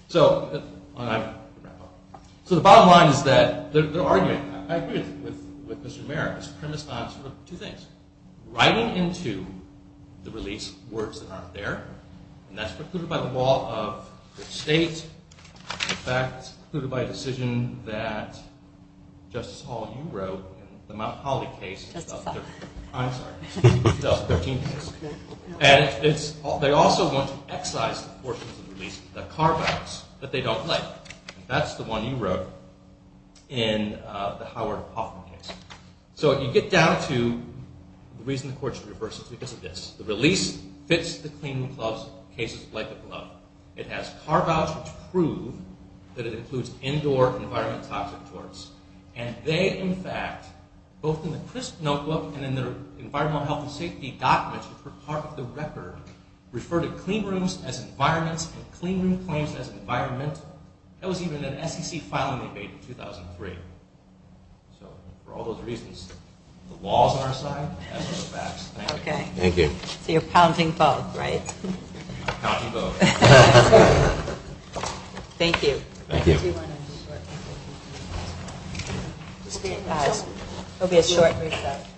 So the bottom line is that their argument, I agree with Mr. Merritt, is premised on two things. Writing into the release words that aren't there, and that's precluded by the law of the state. In fact, it's precluded by a decision that Justice Hall, you wrote in the Mount Holly case. Justice Hall. I'm sorry. The 13th case. And they also want to excise the portions of the release, the carve-outs, that they don't like. That's the one you wrote in the Howard Hoffman case. So you get down to the reason the court should reverse it is because of this. The release fits the cleaning cases like a glove. It has carve-outs which prove that it includes indoor environment toxic torts. And they, in fact, both in the CRISP notebook and in their environmental health and safety documents, which were part of the record, refer to clean rooms as environments and clean room claims as environmental. That was even an SEC filing they made in 2003. So for all those reasons, the law is on our side. That's the facts. Thank you. Okay. Thank you. So you're pounding both, right? Pounding both. Thank you. Thank you. Thank you. It'll be a short recess.